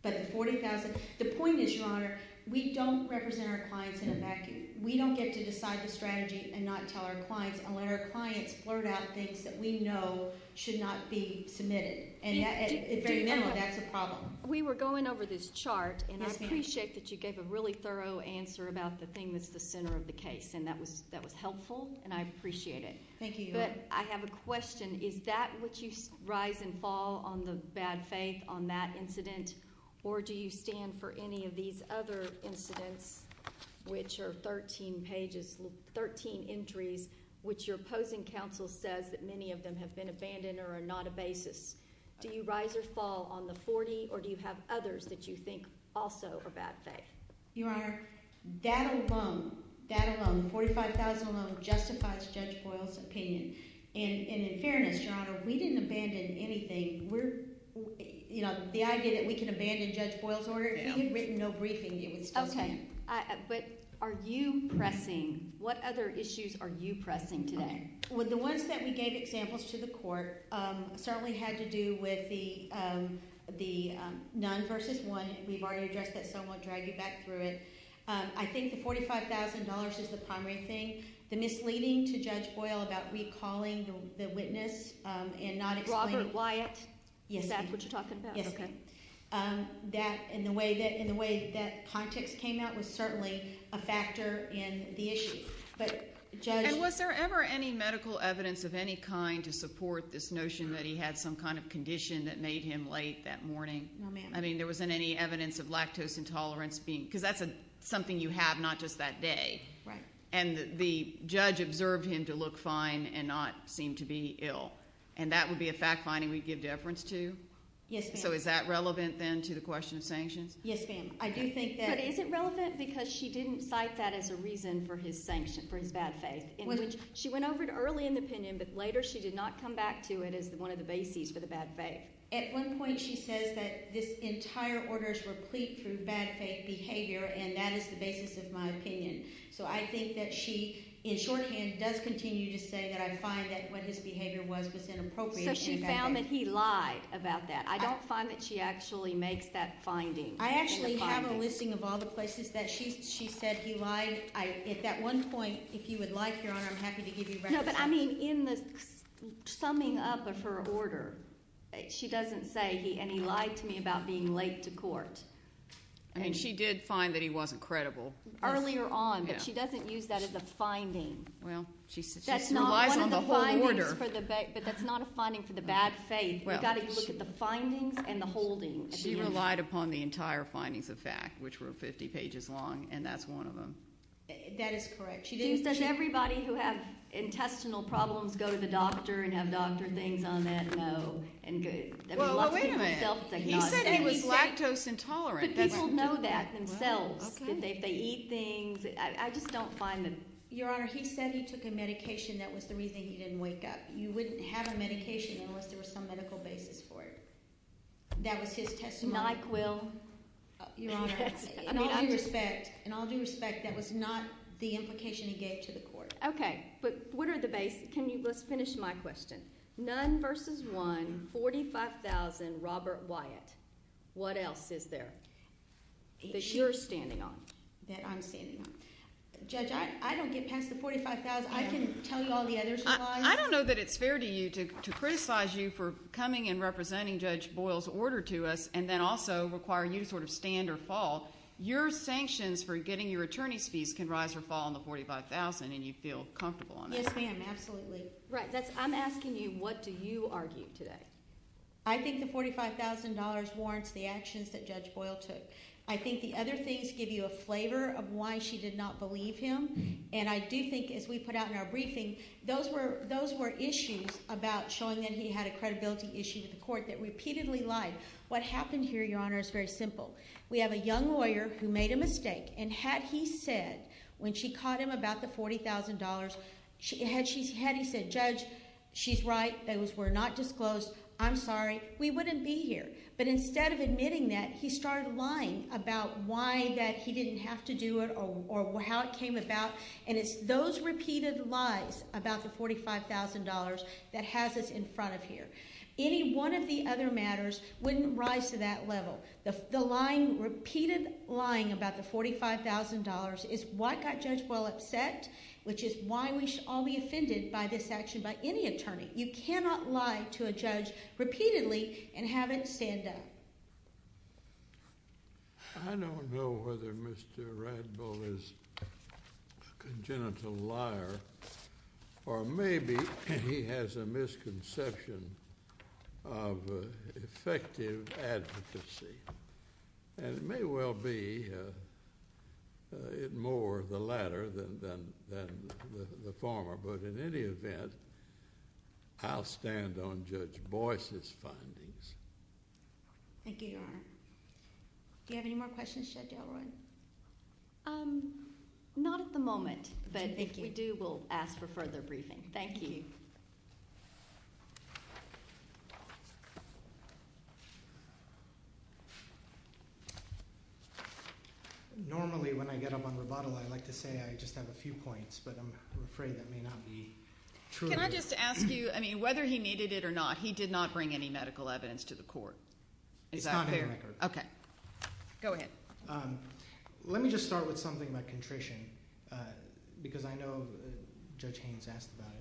But the $40,000, the point is, Your Honor, we don't represent our clients in a vacuum. We don't get to decide the strategy and not tell our clients, and let our clients blurt out things that we know should not be submitted. It's very minimal. That's the problem. We were going over this chart, and I appreciate that you gave a really thorough answer about the thing that's the center of the case. And that was helpful, and I appreciate it. Thank you. But I have a question. Is that what you rise and fall on the bad faith on that incident, or do you stand for any of these other incidents, which are 13 pages, 13 entries, which your opposing counsel says that many of them have been abandoned or are not a basis? Do you rise or fall on the 40, or do you have others that you think also are bad faith? Your Honor, that alone, that alone, the $45,000 alone, justifies Judge Boyle's opinion. And in fairness, Your Honor, we didn't abandon anything. We're, you know, the idea that we can abandon Judge Boyle's order, we've written no briefing, James. Okay. But are you pressing? What other issues are you pressing today? Well, the ones that we gave examples to the court certainly had to do with the nuns versus one. We've already addressed that somewhat. Try to get back through it. I think the $45,000 is a common thing. The misleading to Judge Boyle about recalling the witness and not… Robert Wyatt. Yes, that's what you're talking about. Okay. In the way that context came out was certainly a factor in the issue. But Judge… And was there ever any medical evidence of any kind to support this notion that he had some kind of condition that made him late that morning? No, ma'am. I mean, there wasn't any evidence of lactose intolerance, because that's something you have not just that day. Right. And the judge observed him to look fine and not seem to be ill. And that would be a fact-finding we give deference to? Yes, ma'am. So is that relevant, then, to the question of sanction? Yes, ma'am. I do think that… But is it relevant because she didn't cite that as a reason for his sanction, for his bad faith? She went over it early in the opinion, but later she did not come back to it as one of the bases for the bad faith. At one point she says that this entire order is replete with bad faith behavior, and that is the basis of my opinion. So I think that she, in shorthand, does continue to say that I find that what his behavior was was inappropriate. So she found that he lied about that. I don't find that she actually makes that finding. I actually have a listing of all the places that she said he lies. If at one point, if you would like, Your Honor, I'm happy to give you recommendations. No, but I mean, in the summing up of her order, she doesn't say he – and he lies to me about being late to court. And she did find that he wasn't credible. Earlier on, but she doesn't use that as a finding. Well, she said she relied on the whole order. But that's not a finding for the bad faith. You've got to look at the findings and the holdings. She relied upon the entire findings of fact, which were 50 pages long, and that's one of them. That is correct. She didn't say everybody who has intestinal problems go to the doctor and have doctor things on that, no. Well, wait a minute. He said he was lactose intolerant. But people know that themselves. They eat things. I just don't find that – Your Honor, he said he took a medication that was the reason he didn't wake up. You wouldn't have a medication unless there was some medical basis for it. That was his testimony. Not quill. Your Honor, in all due respect, that was not the implication he gave to the court. Okay. But what are the – let's finish my question. None versus one, 45,000, Robert Wyatt. What else is there that you're standing on, that I'm standing on? Judge, I don't get past the 45,000. I can tell you all the others. I don't know that it's fair to you to criticize you for coming and representing Judge Boyle's order to us and then also requiring you to sort of stand or fall. Your sanctions for getting your attorney's fees can rise or fall on the 45,000, and you feel comfortable on that. Yes, ma'am, absolutely. Right. I'm asking you, what do you argue today? I think the $45,000 warrants the actions that Judge Boyle took. I think the other things give you a flavor of why she did not believe him, and I do think if we put out in our briefing, those were issues about showing that he had a credibility issue to the court that repeatedly lied. What happened here, Your Honor, is very simple. We have a young lawyer who made a mistake, and had he said when she caught him about the $40,000, had he said, Judge, she's right, we're not disclosed, I'm sorry, we wouldn't be here. But instead of admitting that, he started lying about why he didn't have to do it or how it came about, and it's those repeated lies about the $45,000 that has us in front of here. Any one of the other matters wouldn't rise to that level. The repeated lying about the $45,000 is what got Judge Boyle upset, which is why we should all be offended by this action by any attorney. You cannot lie to a judge repeatedly and have it stand up. I don't know whether Mr. Radbow is a congenital liar, or maybe he has a misconception of effective advocacy. It may well be more the latter than the former, but in any event, I'll stand on Judge Boyle's findings. Thank you, Your Honor. Do you have any more questions, Judge Elroy? Not at the moment, but if we do, we'll ask for further briefing. Thank you. Normally when I get up on rebuttal, I like to say I just have a few points, but I'm afraid that may not be true. Can I just ask you, I mean, whether he needed it or not, he did not bring any medical evidence to the court. Is that clear? Okay. Go ahead. Let me just start with something about contrition, because I know Judge Haynes asked about it.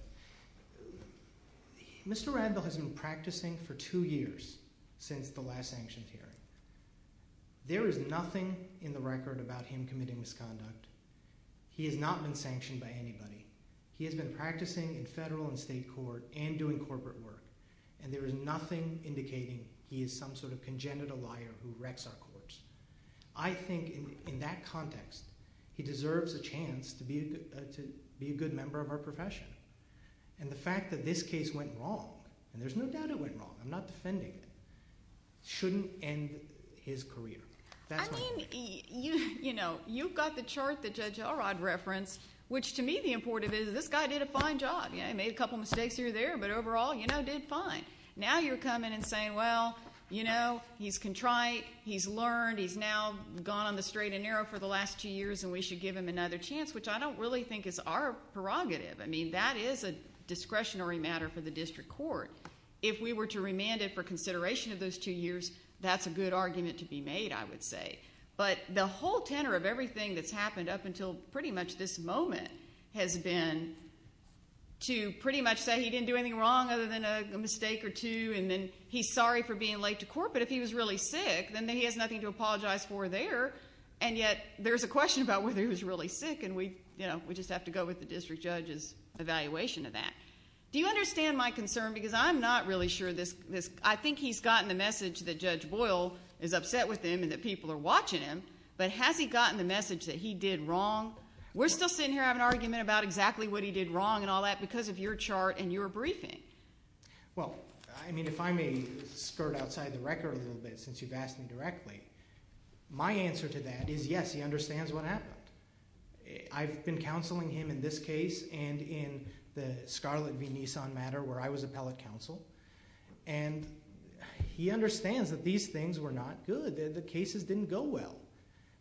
Mr. Radbow has been practicing for two years since the last sanctions hearing. There is nothing in the record about him committing misconduct. He has not been sanctioned by anybody. He has been practicing in federal and state court and doing corporate work, and there is nothing indicating he is some sort of congenital liar who wrecks our courts. I think in that context, he deserves a chance to be a good member of our profession. And the fact that this case went wrong, and there's no doubt it went wrong, I'm not defending it, shouldn't end his career. I mean, you know, you've got the chart that Judge Elrod referenced, which to me the important thing is this guy did a fine job. He made a couple mistakes here and there, but overall, you know, did fine. Now you're coming and saying, well, you know, he's contrite, he's learned, he's now gone on the straight and narrow for the last two years, and we should give him another chance, which I don't really think is our prerogative. I mean, that is a discretionary matter for the district court. If we were to remand it for consideration of those two years, that's a good argument to be made, I would say. But the whole tenor of everything that's happened up until pretty much this moment has been to pretty much say he didn't do anything wrong other than a mistake or two, and then he's sorry for being late to court, but if he was really sick, then he has nothing to apologize for there. And yet there's a question about whether he was really sick, and we, you know, we just have to go with the district judge's evaluation of that. Do you understand my concern? Because I'm not really sure this – I think he's gotten the message that Judge Boyle is upset with him and that people are watching him, but has he gotten the message that he did wrong? We're still sitting here having an argument about exactly what he did wrong and all that because of your chart and your briefing. Well, I mean, if I may skirt outside the record a little bit since you've asked me directly, my answer to that is yes, he understands what happened. I've been counseling him in this case and in the Scarlet v. Nissan matter where I was appellate counsel, and he understands that these things were not good. The cases didn't go well,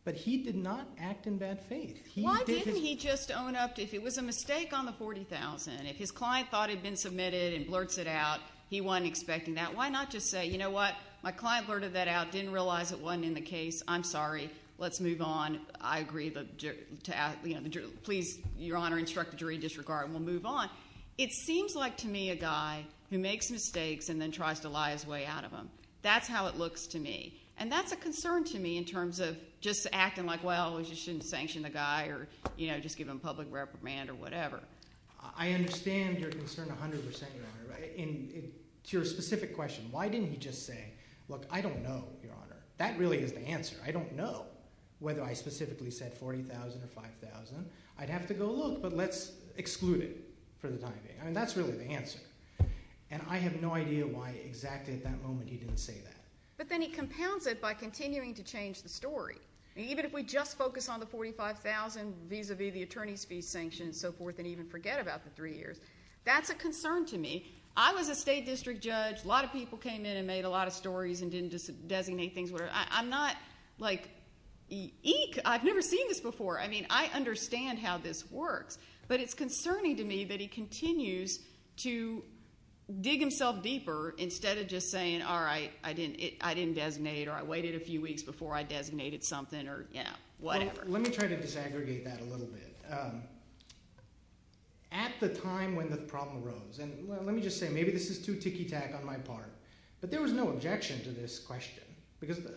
but he did not act in that faith. Why didn't he just own up to – if it was a mistake on the $40,000, if his client thought it had been submitted and blurts it out, he wasn't expecting that. Why not just say, you know what, my client blurted that out, didn't realize it wasn't in the case, I'm sorry, let's move on, I agree, but please, Your Honor, instruct the jury to disregard and we'll move on. It seems like to me a guy who makes mistakes and then tries to lie his way out of them. That's how it looks to me, and that's a concern to me in terms of just acting like, well, we shouldn't sanction the guy or just give him public reprimand or whatever. I understand your concern 100 percent, Your Honor. To your specific question, why didn't he just say, look, I don't know, Your Honor. That really is the answer. I don't know whether I specifically said $40,000 or $5,000. I'd have to go look, but let's exclude it for the time being. I mean, that's really the answer, and I have no idea why exactly at that moment he didn't say that. But then he compounds it by continuing to change the story. Even if we just focus on the $45,000 vis-a-vis the attorney's fee sanctions and so forth and even forget about the three years, that's a concern to me. I was a state district judge. A lot of people came in and made a lot of stories and didn't designate things. I'm not like, eek, I've never seen this before. I mean, I understand how this works. But it's concerning to me that he continues to dig himself deeper instead of just saying, all right, I didn't designate or I waited a few weeks before I designated something or whatever. Let me try to disaggregate that a little bit. At the time when the problem arose, and let me just say maybe this is too ticky-tack on my part, but there was no objection to this question.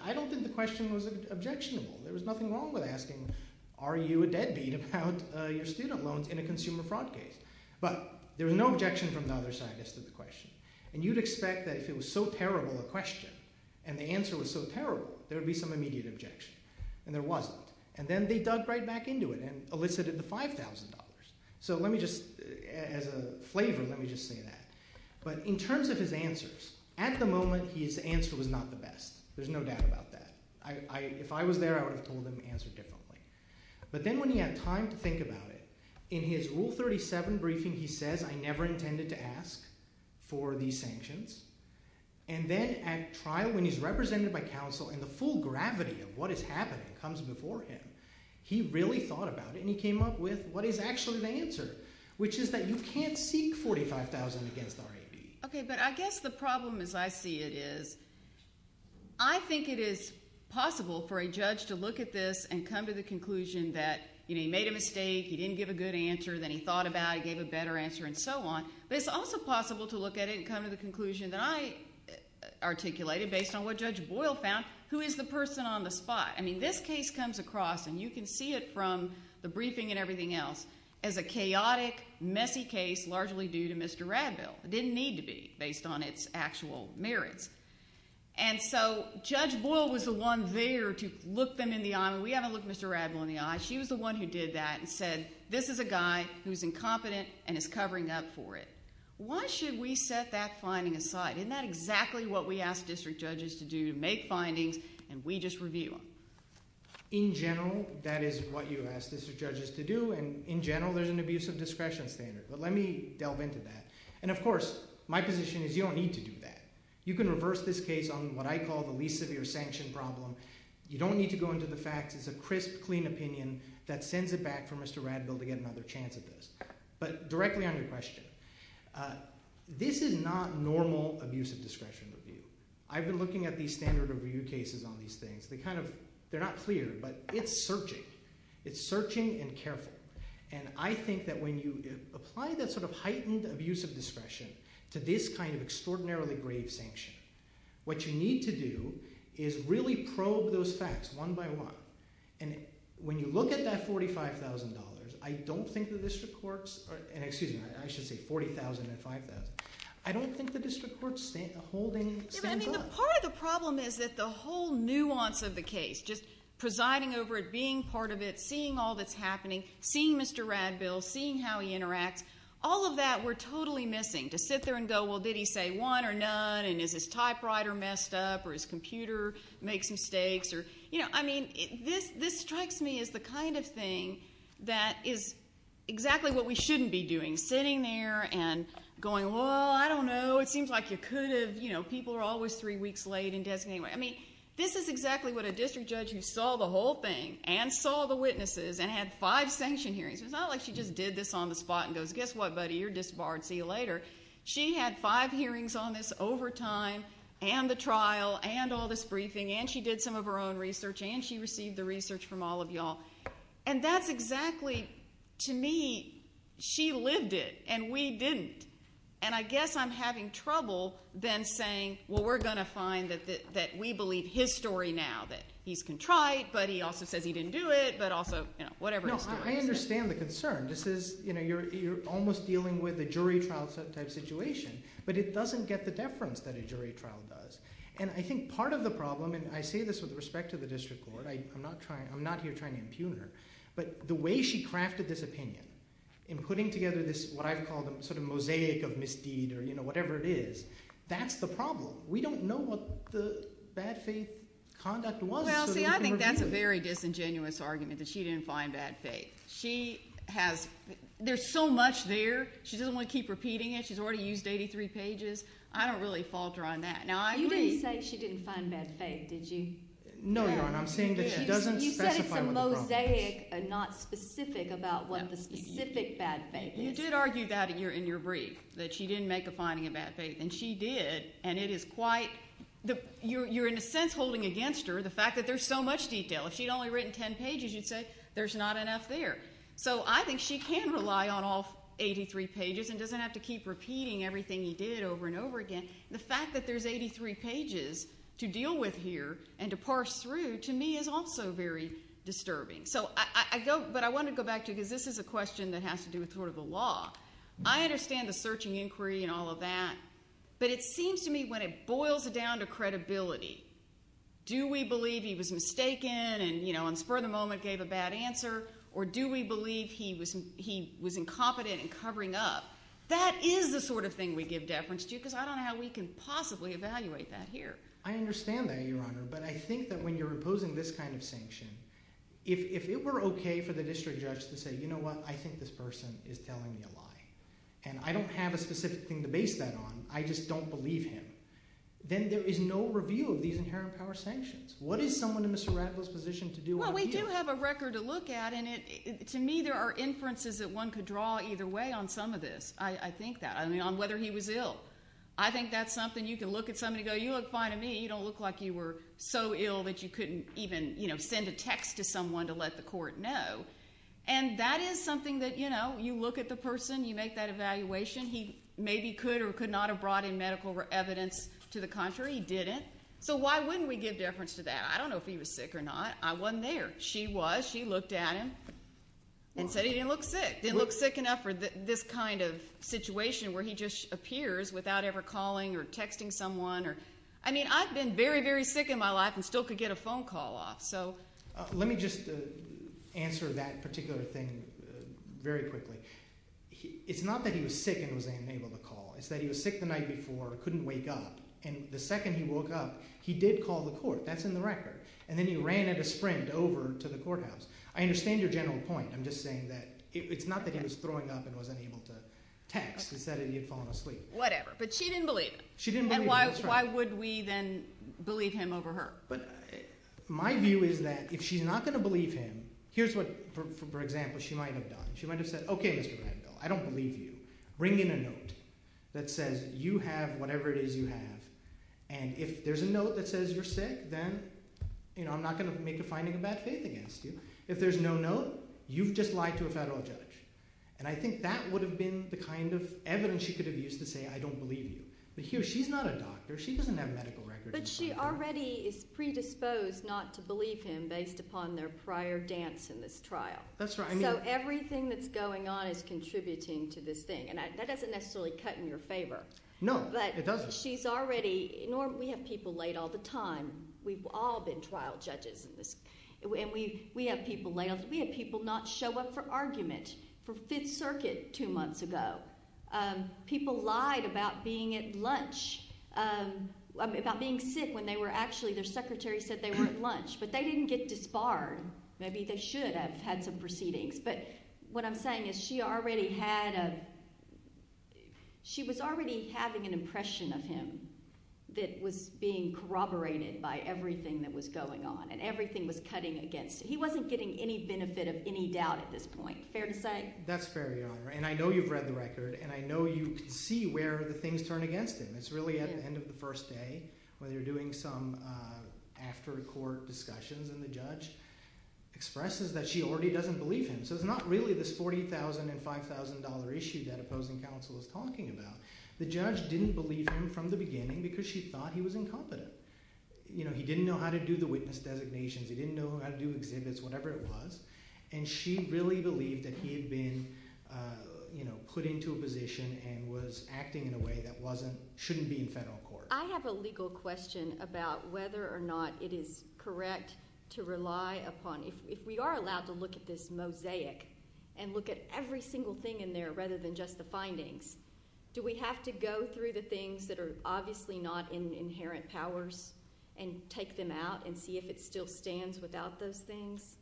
I don't think the question was objectionable. There was nothing wrong with asking, are you a deadbeat about your student loans in a consumer fraud case? But there was no objection from another scientist to the question. And you'd expect that if it was so terrible a question and the answer was so terrible, there would be some immediate objection. And there wasn't. And then they dug right back into it and elicited the $5,000. So let me just, as a flavor, let me just say that. But in terms of his answers, at the moment his answer was not the best. There's no doubt about that. If I was there, I would have told him the answer differently. But then when he had time to think about it, in his Rule 37 briefing he said, I never intended to ask for these sanctions. And then at trial, when he's represented by counsel and the full gravity of what is happening comes before him, he really thought about it. And he came up with what is actually the answer, which is that you can't seek $45,000 against RID. Okay, but I guess the problem, as I see it, is I think it is possible for a judge to look at this and come to the conclusion that he made a mistake, he didn't give a good answer, then he thought about it, he gave a better answer, and so on. But it's also possible to look at it and come to the conclusion that I articulated based on what Judge Boyle found, who is the person on the spot? I mean, this case comes across, and you can see it from the briefing and everything else, as a chaotic, messy case largely due to Mr. Radville. It didn't need to be based on its actual merits. And so Judge Boyle was the one there to look them in the eye. We haven't looked Mr. Radville in the eye. She was the one who did that and said, this is a guy who is incompetent and is covering up for it. Why should we set that finding aside? Isn't that exactly what we ask district judges to do, make findings, and we just review them? In general, that is what you ask district judges to do, and in general, there's an abuse of discretion standard. But let me delve into that. And of course, my position is you don't need to do that. You can reverse this case on what I call the least severe sanction problem. You don't need to go into the facts. It's a crisp, clean opinion that sends it back for Mr. Radville to get another chance at this. But directly on your question, this is not normal abuse of discretion review. I've been looking at these standard review cases on these things. They're not clear, but it's searching. It's searching and careful. And I think that when you apply that sort of heightened abuse of discretion to this kind of extraordinarily grave sanction, what you need to do is really probe those facts one by one. And when you look at that $45,000, I don't think the district court's – excuse me, I should say $40,005. I don't think the district court's holding – Part of the problem is that the whole nuance of the case, just presiding over it, being part of it, seeing all this happening, seeing Mr. Radville, seeing how he interacts, all of that we're totally missing. To sit there and go, well, did he say one or none, and is his typewriter messed up, or his computer makes mistakes. You know, I mean, this strikes me as the kind of thing that is exactly what we shouldn't be doing, sitting there and going, well, I don't know, it seems like you could have – you know, people are always three weeks late in death in any way. I mean, this is exactly what a district judge who saw the whole thing, and saw the witnesses, and had five sanction hearings – it's not like she just did this on the spot and goes, guess what, buddy, you're disbarred, see you later. She had five hearings on this over time, and the trial, and all this briefing, and she did some of her own research, and she received the research from all of you all. And that's exactly, to me, she lived it, and we didn't. And I guess I'm having trouble then saying, well, we're going to find that we believe his story now, that he's contrite, but he also says he didn't do it, but also whatever. No, I understand the concern. This is – you're almost dealing with a jury trial type situation, but it doesn't get the deference that a jury trial does. And I think part of the problem – and I say this with respect to the district court. I'm not here trying to impugn her, but the way she crafted this opinion and putting together this – what I call the sort of mosaic of misbehavior, whatever it is, that's the problem. We don't know what the bad faith conduct was. Well, I think that's a very disingenuous argument that she didn't find bad faith. She has – there's so much there. She doesn't want to keep repeating it. She's already used 83 pages. I don't really fault her on that. You didn't say she didn't find bad faith, did you? I'm saying that she doesn't specify what the problem is. It's mosaic and not specific about what the specific bad faith is. You did argue that in your brief, that she didn't make a finding of bad faith, and she did. And it is quite – you're in a sense holding against her the fact that there's so much detail. If she'd only written 10 pages, you'd say there's not enough there. So I think she can rely on all 83 pages and doesn't have to keep repeating everything you did over and over again. And the fact that there's 83 pages to deal with here and to parse through, to me, is also very disturbing. So I don't – but I want to go back to – because this is a question that has to do with sort of a law. I understand the search and inquiry and all of that, but it seems to me when it boils down to credibility, do we believe he was mistaken and for the moment gave a bad answer, or do we believe he was incompetent in covering up? That is the sort of thing we give deference to because I don't know how we can possibly evaluate that here. I understand that, Your Honor, but I think that when you're imposing this kind of sanction, if it were okay for the district judge to say, you know what, I think this person is telling me a lie, and I don't have a specific thing to base that on, I just don't believe him, then there is no review of these inherent power sanctions. What is someone in Mr. Ratliff's position to do out here? Well, we do have a record to look at, and to me there are inferences that one could draw either way on some of this. I think that – I mean, on whether he was ill. I think that's something you can look at somebody and go, you look fine to me. You don't look like you were so ill that you couldn't even send a text to someone to let the court know. And that is something that, you know, you look at the person, you make that evaluation. He maybe could or could not have brought in medical evidence. To the contrary, he didn't. So why wouldn't we give deference to that? I don't know if he was sick or not. I wasn't there. She was. She looked at him and said he didn't look sick. He didn't look sick enough for this kind of situation where he just appears without ever calling or texting someone. I mean, I've been very, very sick in my life and still could get a phone call off. Let me just answer that particular thing very quickly. It's not that he was sick and was unable to call. It's that he was sick the night before, couldn't wake up, and the second he woke up, he did call the court. That's in the record. And then he ran at a sprint over to the courthouse. I understand your general point. I'm just saying that it's not that he was throwing up and wasn't able to text. It's that he had fallen asleep. Whatever. But she didn't believe him. She didn't believe him. And why would we then believe him over her? My view is that if she's not going to believe him, here's what, for example, she might have done. She might have said, okay, Mr. Randall, I don't believe you. Bring me the note that says you have whatever it is you have. And if there's a note that says you're sick, then I'm not going to make a finding of bad faith against you. If there's no note, you've just lied to a federal judge. And I think that would have been the kind of evidence she could have used to say I don't believe you. But here, she's not a doctor. She doesn't have medical records. But she already is predisposed not to believe him based upon their prior dance in this trial. That's right. So everything that's going on is contributing to this thing. And that doesn't necessarily cut in your favor. No, it doesn't. She's already, we have people late all the time. We've all been trial judges. And we have people late. We have people not show up for arguments for Fifth Circuit two months ago. People lied about being at lunch, about being sick when they were actually, their secretary said they were at lunch. But they didn't get this far. Maybe they should have had some proceedings. But what I'm saying is she already had a, she was already having an impression of him that was being corroborated by everything that was going on. And everything was cutting against him. He wasn't getting any benefit of any doubt at this point. Fair to say? That's fair, Your Honor. And I know you've read the record. And I know you see where the things turn against him. It's really at the end of the first day when they're doing some after-court discussions. And the judge expresses that she already doesn't believe him. So it's not really this $40,000 and $5,000 issue that opposing counsel is talking about. The judge didn't believe him from the beginning because she thought he was incompetent. You know, he didn't know how to do the witness designation. He didn't know how to do exhibits, whatever it was. And she really believed that he had been put into a position and was acting in a way that shouldn't be in federal court. I have a legal question about whether or not it is correct to rely upon, if we are allowed to look at this mosaic and look at every single thing in there rather than just the findings, do we have to go through the things that are obviously not in the inherent powers and take them out and see if it still stands without those things?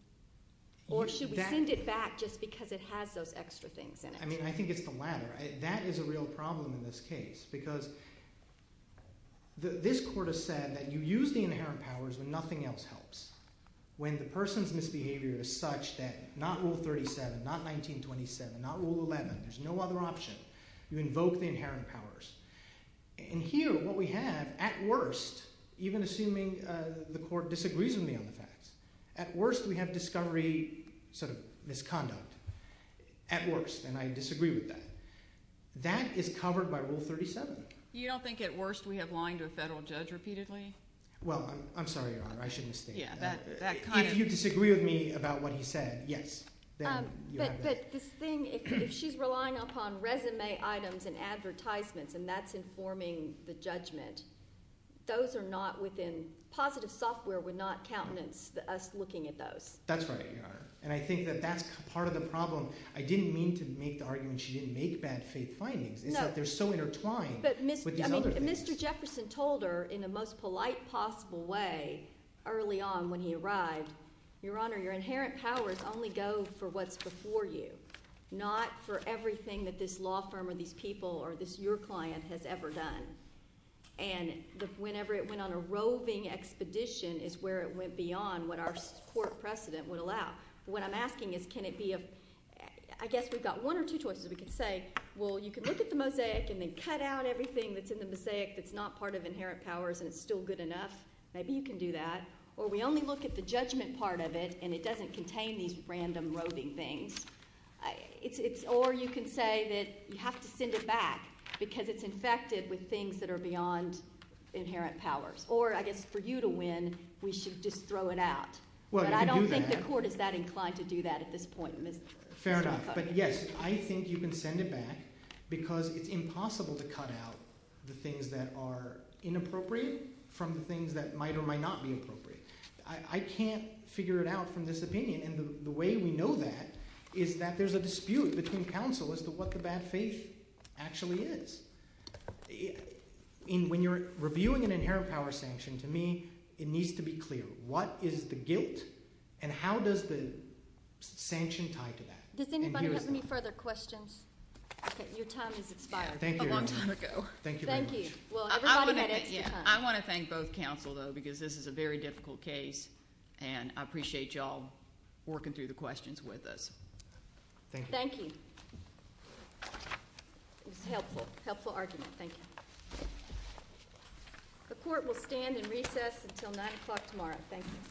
Or should we send it back just because it has those extra things in it? I mean, I think it's the latter. That is a real problem in this case because this court has said that you use the inherent powers when nothing else helps. When the person's misbehavior is such that not Rule 37, not 1927, not Rule 11, there's no other option. You invoke the inherent powers. And here what we have, at worst, even assuming the court disagrees with me on the facts, at worst we have discovery, sort of, misconduct. At worst, and I disagree with that. That is covered by Rule 37. You don't think at worst we have lying to a federal judge repeatedly? Well, I'm sorry, Your Honor, I shouldn't say that. If you disagree with me about what he said, yes. But the thing – if she's relying upon resume items and advertisements and that's informing the judgment, those are not within – positive software would not countenance us looking at those. That's right, Your Honor, and I think that that's part of the problem. I didn't mean to make the argument she didn't make bad faith findings. In fact, they're so intertwined with the other things. When Mr. Jefferson told her in the most polite possible way early on when he arrived, Your Honor, your inherent powers only go for what's before you, not for everything that this law firm or these people or this – your client has ever done. And whenever it went on a roving expedition is where it went beyond what our court precedent would allow. What I'm asking is can it be – I guess we've got one or two choices. We can say, well, you can look at the mosaic and then cut out everything that's in the mosaic that's not part of inherent powers and it's still good enough. Maybe you can do that. Or we only look at the judgment part of it and it doesn't contain these random roving things. Or you can say that you have to send it back because it's infected with things that are beyond inherent powers. Or I guess for you to win, we should just throw it out. But I don't think the court is that inclined to do that at this point. Fair enough. But yes, I think you can send it back because it's impossible to cut out the things that are inappropriate from the things that might or might not be appropriate. I can't figure it out from this opinion. And the way we know that is that there's a dispute between counsel as to what the bad faith actually is. When you're reviewing an inherent power sanction, to me, it needs to be clear. What is the gift and how does the sanction tie to that? Does anybody have any further questions? Your time has expired a long time ago. Thank you very much. Thank you. I want to thank both counsel, though, because this is a very difficult case, and I appreciate you all working through the questions with us. Thank you. Thank you. Helpful. Helpful argument. Thank you. The court will stand and recess until 9 o'clock tomorrow. Thank you.